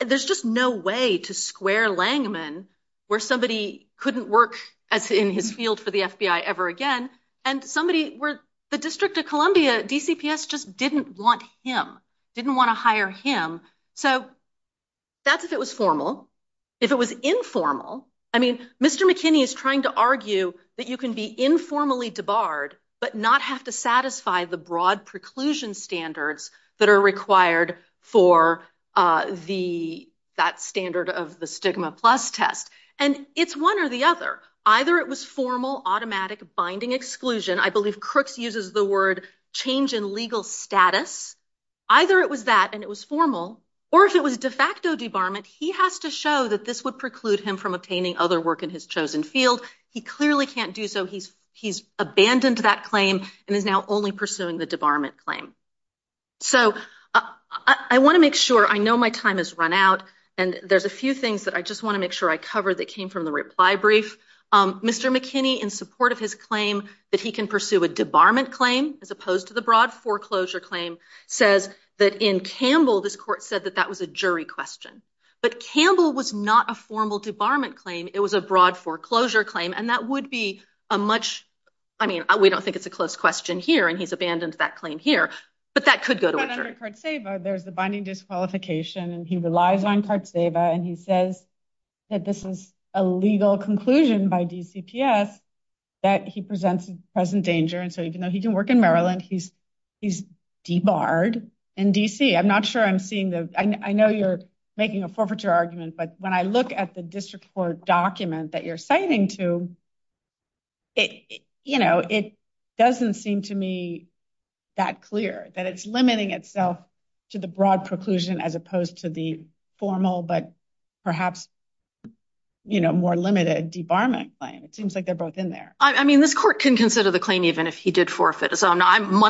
there's just no way to square Langman where somebody couldn't work as in his field for the FBI ever again. And somebody where the District of Columbia, DCPS, just didn't want him, didn't want to hire him. So that's if it was formal. If it was informal, I mean, Mr. McKinney is trying to argue that you can be informally debarred but not have to satisfy the broad preclusion standards that are required for the that standard of the stigma plus test. And it's one or the other. Either it was formal automatic binding exclusion. I believe Crooks uses the word change in legal status. Either it was that and it was formal or if it was de facto debarment, he has to show that this would preclude him from obtaining other work in his chosen field. He clearly can't do so. He's he's abandoned that claim and is now only pursuing the debarment claim. So I want to make sure I know my time has run out. And there's a few things that I just want to make sure I cover that came from the reply brief. Mr. McKinney, in support of his claim that he can pursue a debarment claim as opposed to the broad foreclosure claim, says that in Campbell, this court said that that was a jury question. But Campbell was not a formal debarment claim. It was a broad foreclosure claim. And that would be a much I mean, we don't think it's a close question here. And he's abandoned that claim here. But that could go to a jury. There's the binding disqualification and he relies on Cartseva and he says that this is a legal conclusion by DCPS that he presents present danger. And so, you know, he can work in Maryland. He's he's debarred in D.C. I'm not sure I'm seeing the I know you're making a forfeiture argument, but when I look at the district court document that you're citing to. You know, it doesn't seem to me that clear that it's limiting itself to the broad preclusion as opposed to the formal, but perhaps, you know, more limited debarment claim, it seems like they're both in there. I mean, this court can consider the claim even if he did forfeit. So what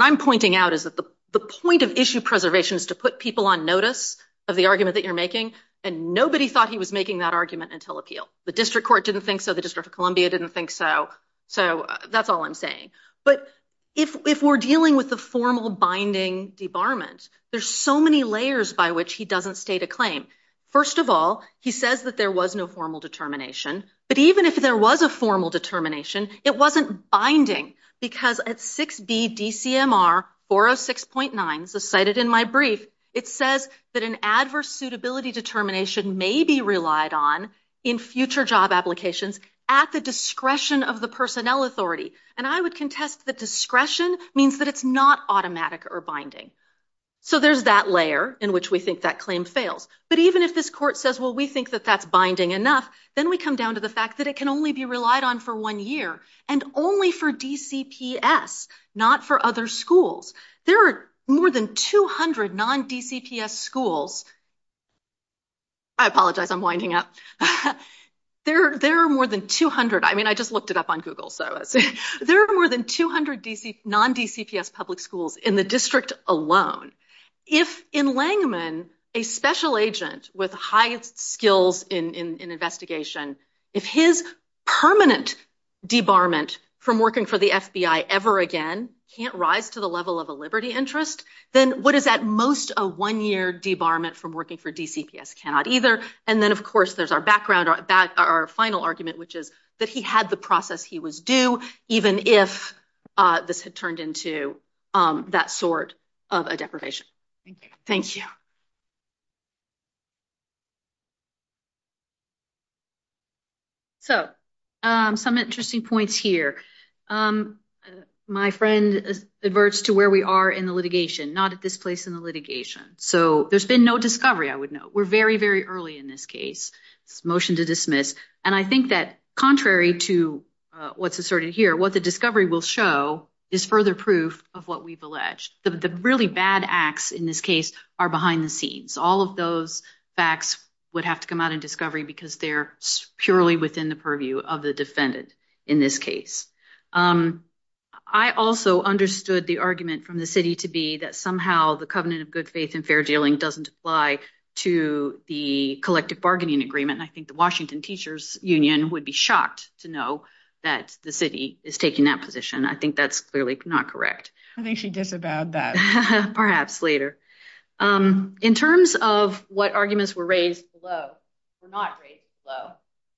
I'm pointing out is that the the point of issue preservation is to put people on notice of the argument that you're making. And nobody thought he was making that argument until appeal. The district court didn't think so. The District of Columbia didn't think so. So that's all I'm saying. But if we're dealing with the formal binding debarment, there's so many layers by which he doesn't state a claim. First of all, he says that there was no formal determination. But even if there was a formal determination, it wasn't binding because at 6B DCMR 406.9, so cited in my brief, it says that an adverse suitability determination may be relied on in future job applications at the discretion of the personnel authority. And I would contest that discretion means that it's not automatic or binding. So there's that layer in which we think that claim fails. But even if this court says, well, we think that that's binding enough, then we come down to the fact that it can only be relied on for one year and only for DCPS, not for other schools. There are more than 200 non DCPS schools. I apologize, I'm winding up there, there are more than 200. I mean, I just looked it up on Google, so there are more than 200 DC non DCPS public schools in the district alone. If in Langman, a special agent with high skills in investigation, if his permanent debarment from working for the FBI ever again can't rise to the level of a liberty interest, then what is at most a one year debarment from working for DCPS cannot either. And then, of course, there's our background, our final argument, which is that he had the process, he was due, even if this had turned into that sort of a deprivation. Thank you. So some interesting points here, my friend adverts to where we are in the litigation, not at this place in the litigation. So there's been no discovery, I would note. We're very, very early in this case. Motion to dismiss. And I think that contrary to what's asserted here, what the discovery will show is further proof of what we've alleged. The really bad acts in this case are behind the scenes. All of those facts would have to come out in discovery because they're purely within the purview of the defendant in this case. I also understood the argument from the city to be that somehow the covenant of good and fair dealing doesn't apply to the collective bargaining agreement. And I think the Washington Teachers Union would be shocked to know that the city is taking that position. I think that's clearly not correct. I think she disavowed that. Perhaps later. In terms of what arguments were raised below, were not raised below,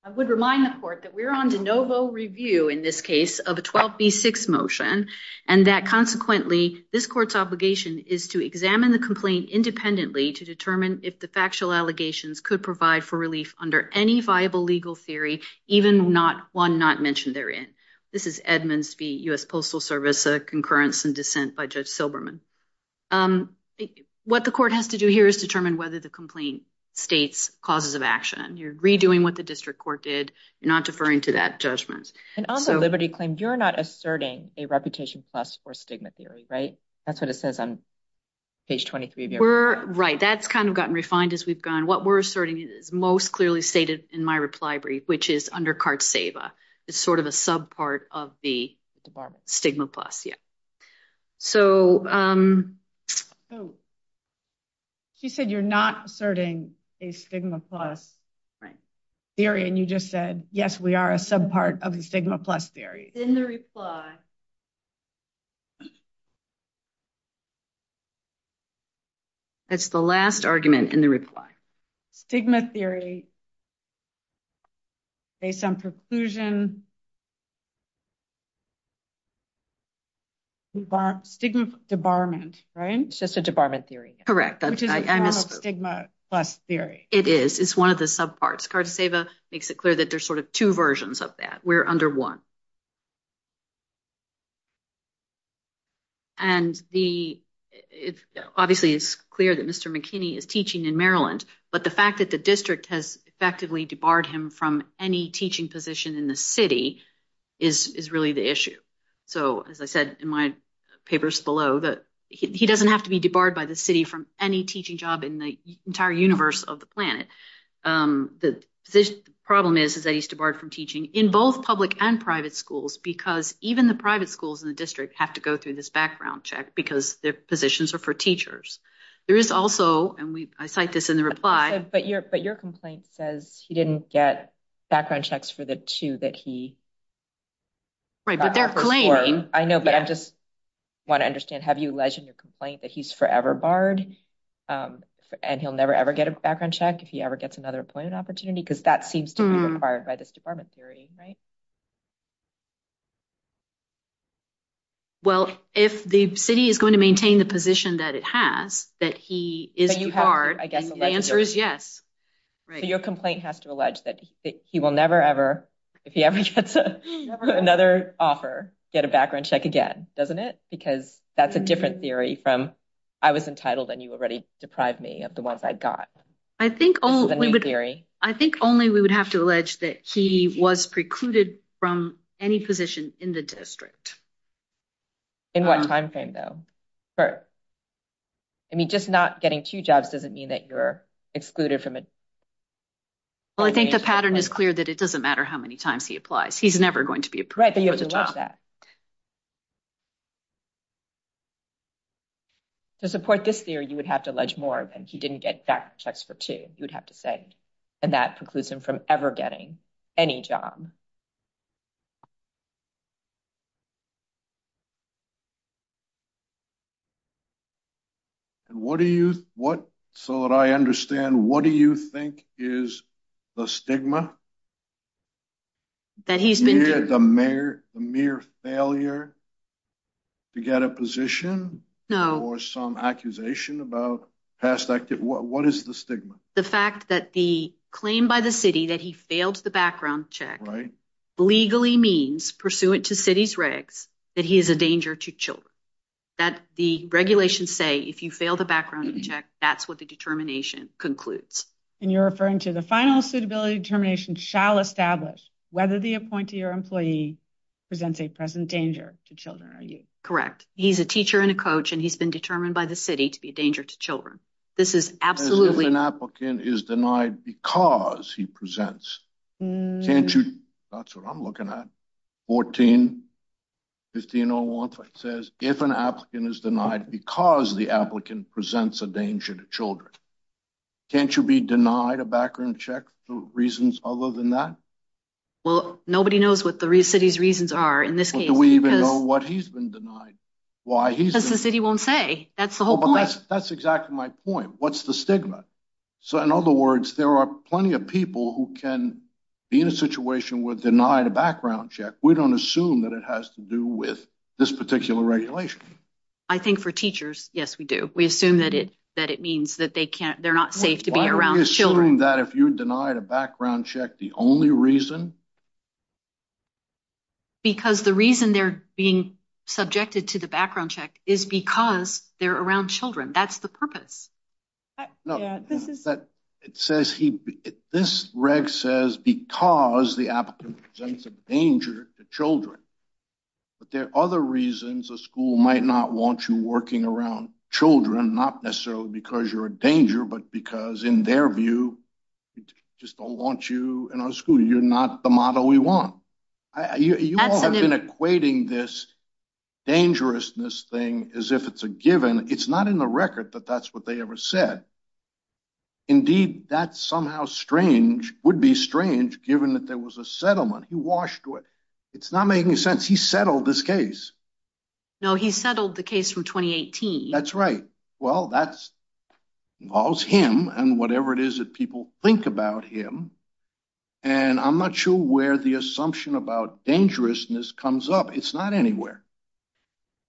I would remind the court that we're on de novo review in this case of a 12B6 motion and that consequently this court's obligation is to examine the complaint independently to determine if the factual allegations could provide for relief under any viable legal theory, even one not mentioned therein. This is Edmonds v. U.S. Postal Service, a concurrence and dissent by Judge Silberman. What the court has to do here is determine whether the complaint states causes of action. You're redoing what the district court did. You're not deferring to that judgment. And also Liberty claimed you're not asserting a reputation plus for stigma theory, right? That's what it says on page 23. We're right. That's kind of gotten refined as we've gone. What we're asserting is most clearly stated in my reply brief, which is under CART-SAVA is sort of a sub part of the stigma plus. Yeah. So. She said you're not asserting a stigma plus theory and you just said, yes, we are a sub part of the stigma plus theory in the reply. That's the last argument in the reply, stigma theory. Based on preclusion. Stigma debarment, right, it's just a debarment theory, correct? That's stigma plus theory. It is. It's one of the sub parts. CART-SAVA makes it clear that there's sort of two versions of that. We're under one. And the it obviously is clear that Mr. McKinney is teaching in Maryland, but the fact that the district has effectively debarred him from any teaching position in the city is really the issue. So, as I said in my papers below, that he doesn't have to be debarred by the city from any teaching job in the entire universe of the planet. The problem is, is that he's debarred from teaching in both public and private schools because even the private schools in the district have to go through this background check because their positions are for teachers. There is also and I cite this in the reply. But your but your complaint says he didn't get background checks for the two that he. Right, but they're claiming I know, but I just want to understand, have you alleged in your complaint that he's forever barred and he'll never, ever get a background check if he ever gets another appointment opportunity, because that seems to be required by this department theory. Right. Well, if the city is going to maintain the position that it has, that he is I guess the answer is yes. Your complaint has to allege that he will never, ever if he ever gets another offer, get a background check again, doesn't it? Because that's a different theory from I was entitled and you already deprived me of the ones I got. I think all theory. I think only we would have to allege that he was precluded from any position in the district. In what time frame, though, for. I mean, just not getting two jobs doesn't mean that you're excluded from it. Well, I think the pattern is clear that it doesn't matter how many times he applies, he's never going to be right there. You have to watch that. To support this theory, you would have to allege more than he didn't get back checks for two, you would have to say, and that precludes him from ever getting any job. And what do you what so that I understand, what do you think is the stigma? No. That he's been the mayor, the mere failure. To get a position now or some accusation about past active, what is the stigma? The fact that the claim by the city that he failed the background check, right, legally means pursuant to city's regs, that he is a danger to children, that the regulations say if you fail the background check, that's what the determination concludes. And you're referring to the final suitability determination shall establish whether the appointee or employee presents a present danger to children. Are you correct? He's a teacher and a coach, and he's been determined by the city to be a danger to children. This is absolutely an applicant is denied because he presents. Can't you? That's what I'm looking at. Fourteen. Fifteen oh one says if an applicant is denied because the applicant presents a danger to children, can't you be denied a background check? The reasons other than that? Well, nobody knows what the city's reasons are in this case. Do we even know what he's been denied? Why he says the city won't say that's the whole point. That's exactly my point. What's the stigma? So in other words, there are plenty of people who can be in a situation with denied a background check. We don't assume that it has to do with this particular regulation. I think for teachers. Yes, we do. We assume that it that it means that they can't they're not safe to be around children that if you denied a background check, the only reason. Because the reason they're being subjected to the background check is because they're around children, that's the purpose. No, this is that it says he this reg says because the applicant presents a danger to children. But there are other reasons a school might not want you working around children, not necessarily because you're a danger, but because in their view, we just don't want you in our school. You're not the model we want. You have been equating this dangerousness thing as if it's a given. It's not in the record that that's what they ever said. Indeed, that's somehow strange, would be strange, given that there was a settlement he washed with. It's not making sense. He settled this case. No, he settled the case from twenty eighteen. That's right. Well, that's all him and whatever it is that people think about him. And I'm not sure where the assumption about dangerousness comes up. It's not anywhere.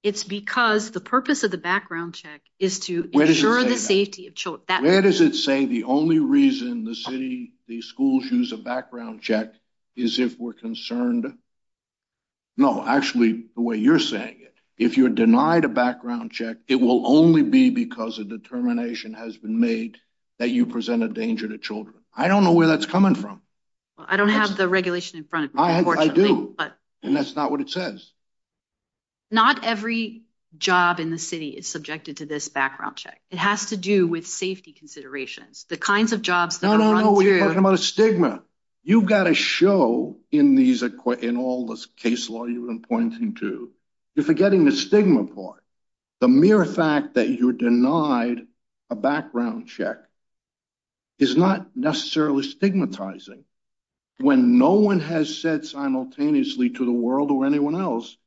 It's because the purpose of the background check is to ensure the safety of children. Where does it say the only reason the city, the schools use a background check is if we're concerned? No, actually, the way you're saying it, if you're denied a background check, it will only be because a determination has been made that you present a danger to children. I don't know where that's coming from. I don't have the regulation in front. I do. And that's not what it says. Not every job in the city is subjected to this background check. It has to do with safety considerations, the kinds of jobs. No, no, no. We're talking about a stigma. You've got to show in these in all this case law you've been pointing to, you're forgetting the stigma part. The mere fact that you're denied a background check. Is not necessarily stigmatizing when no one has said simultaneously to the world or anyone else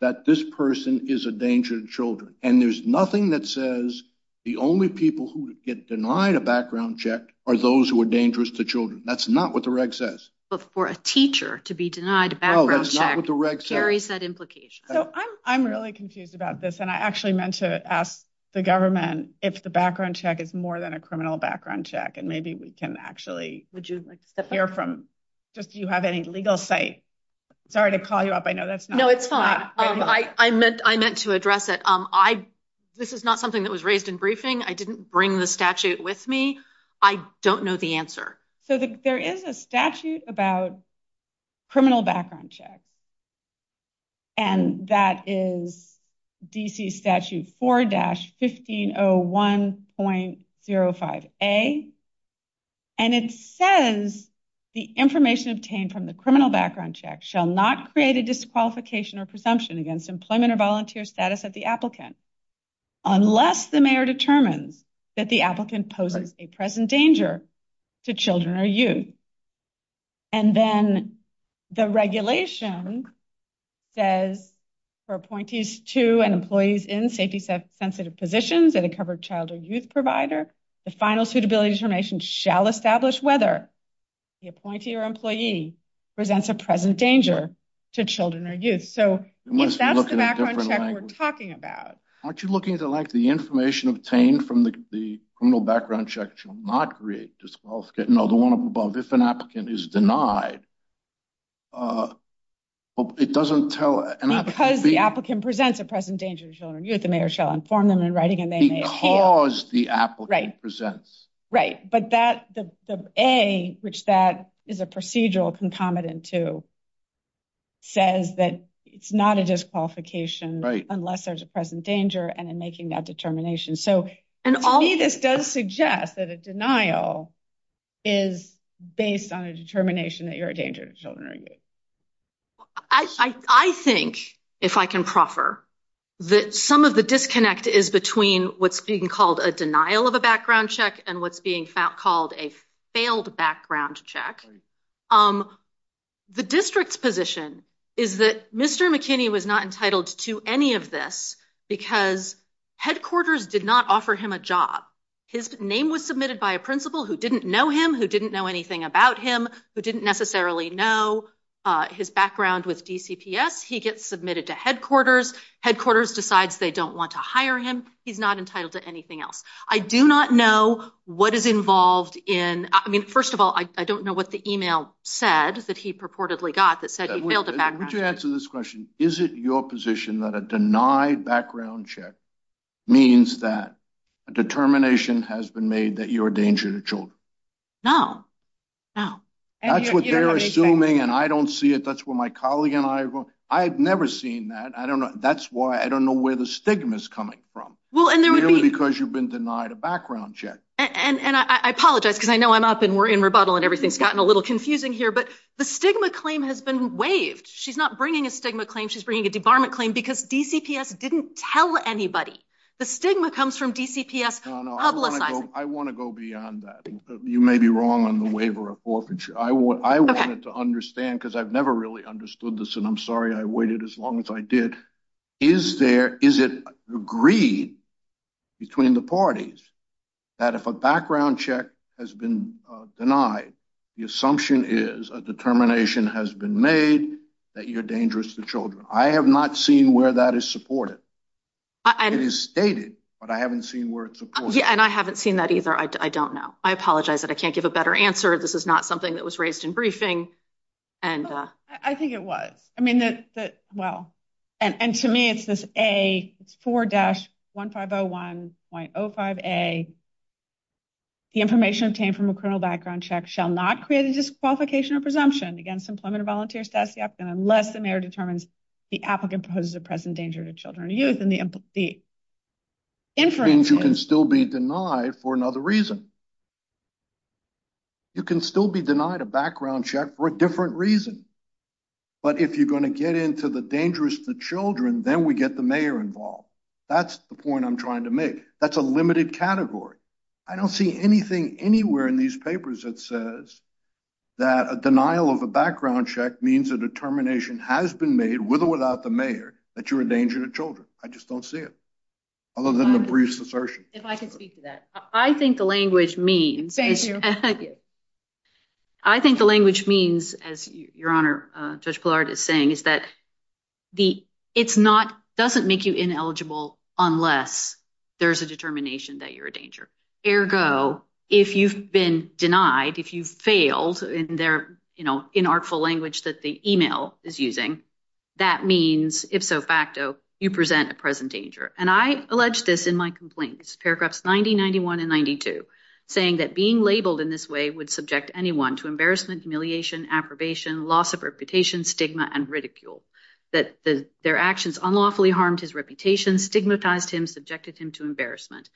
that this person is a danger to children and there's nothing that says the only people who get denied a background check are those who are dangerous to children. That's not what the reg says. But for a teacher to be denied a background check carries that implication. So I'm really confused about this. And I actually meant to ask the government if the background check is more than a criminal background check. And maybe we can actually would you like to hear from just do you have any legal say? Sorry to call you up. I know that's no, it's fine. I meant I meant to address it. I this is not something that was raised in briefing. I didn't bring the statute with me. I don't know the answer. So there is a statute about criminal background checks. And that is D.C. statute four dash fifteen oh one point zero five a. And it says the information obtained from the criminal background check shall not create a disqualification or presumption against employment or volunteer status at the applicant unless the mayor determines that the applicant poses a present danger to children or youth. And then the regulation says for appointees to and employees in safety sensitive positions that a covered child or youth provider, the final suitability information shall establish whether the appointee or employee presents a present danger to children or youth. So that's the background we're talking about. Aren't you looking at the like the information obtained from the criminal background check shall not create disqualification. No, the one above. If an applicant is denied. It doesn't tell because the applicant presents a present danger to children, the mayor shall inform them in writing and they cause the applicant presents. Right. But that the A, which that is a procedural concomitant to. Says that it's not a disqualification unless there's a present danger and in making that determination. So and all this does suggest that a denial is based on a determination that you're a danger to children or youth. I think if I can proffer that some of the disconnect is between what's being called a denial of a background check and what's being called a failed background check. The district's position is that Mr. McKinney was not entitled to any of this because headquarters did not offer him a job. His name was submitted by a principal who didn't know him, who didn't know anything about him, who didn't necessarily know his background with DCPS. He gets submitted to headquarters. Headquarters decides they don't want to hire him. He's not entitled to anything else. I do not know what is involved in. I mean, first of all, I don't know what the email said that he purportedly got that said he failed to back. Would you answer this question? Is it your position that a denied background check means that a determination has been made that you're a danger to children? No, no. And that's what they're assuming. And I don't see it. That's where my colleague and I, I've never seen that. I don't know. That's why I don't know where the stigma is coming from. Well, and there would be because you've been denied a background check. And I apologize because I know I'm up and we're in rebuttal and everything's gotten a little confusing here, but the stigma claim has been waived. She's not bringing a stigma claim. She's bringing a debarment claim because DCPS didn't tell anybody the stigma comes from DCPS. I want to go beyond that. You may be wrong on the waiver of forfeiture. I want I wanted to understand because I've never really understood this. And I'm sorry I waited as long as I did. Is there is it agreed between the parties that if a background check has been denied, the assumption is a determination has been made that you're dangerous to children? I have not seen where that is supported. And it is stated, but I haven't seen where it's and I haven't seen that either. I don't know. I apologize that I can't give a better answer. This is not something that was raised in briefing. And I think it was I mean, that well, and to me, it's this a four dash one five zero one point oh five a. The information obtained from a criminal background check shall not create a disqualification or presumption against employment or volunteer status, yet unless the mayor determines the applicant poses a present danger to children, youth and the inference, you can still be denied for another reason. You can still be denied a background check for a different reason, but if you're going to get into the dangerous to children, then we get the mayor involved. That's the point I'm trying to make. That's a limited category. I don't see anything anywhere in these papers that says that a denial of a background check means a determination has been made with or without the mayor that you're in danger to children. I just don't see it. Other than the brief assertion, if I can speak to that, I think the language means. I think the language means, as your honor, Judge Blard is saying, is that the it's not doesn't make you ineligible unless there's a determination that you're a danger. Ergo, if you've been denied, if you've failed in their inartful language that the email is using, that means if so facto, you present a present danger. And I allege this in my complaints, paragraphs 90, 91 and 92, saying that being labeled in this way would subject anyone to embarrassment, humiliation, approbation, loss of reputation, stigma and ridicule. That their actions unlawfully harmed his reputation, stigmatized him, subjected him to embarrassment.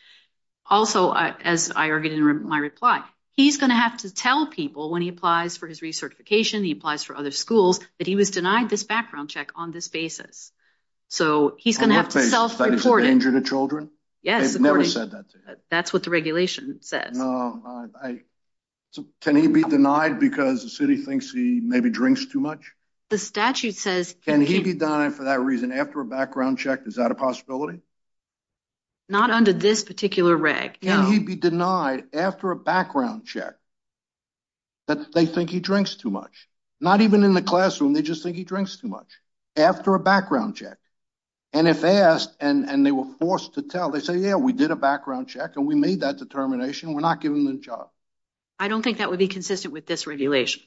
Also, as I argued in my reply, he's going to have to tell people when he applies for his recertification, he applies for other schools, that he was denied this background check on this basis. So he's going to have to self-report it. On what basis? That he's a danger to children? Yes. They've never said that to him. That's what the regulation says. No. Can he be denied because the city thinks he maybe drinks too much? The statute says. Can he be denied for that reason after a background check? Is that a possibility? Not under this particular reg. Can he be denied after a background check that they think he drinks too much? Not even in the classroom, they just think he drinks too much. After a background check. And if asked and they were forced to tell, they say, yeah, we did a background check and we made that determination. We're not giving them a job. I don't think that would be consistent with this regulation.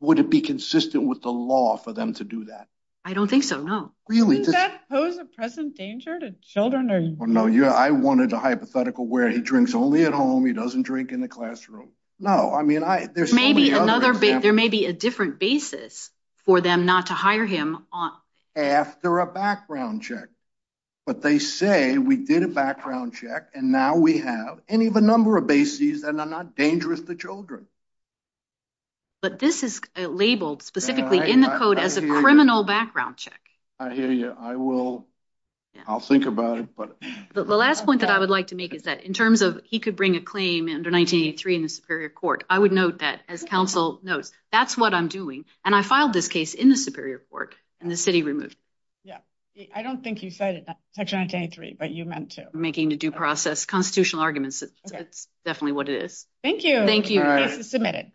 Would it be consistent with the law for them to do that? I don't think so. Really? Does that pose a present danger to children? Or no. I wanted a hypothetical where he drinks only at home. He doesn't drink in the classroom. I mean, there may be a different basis for them not to hire him after a background check. But they say we did a background check. And now we have any of a number of bases that are not dangerous to children. But this is labeled specifically in the code as a criminal background check. I hear you. I will. I'll think about it. But the last point that I would like to make is that in terms of he could bring a claim under 1983 in the Superior Court, I would note that as counsel notes, that's what I'm doing. And I filed this case in the Superior Court and the city removed it. Yeah. I don't think you said it, Section 1983, but you meant to. Making the due process constitutional arguments. It's definitely what it is. Thank you. Thank you. Submitted.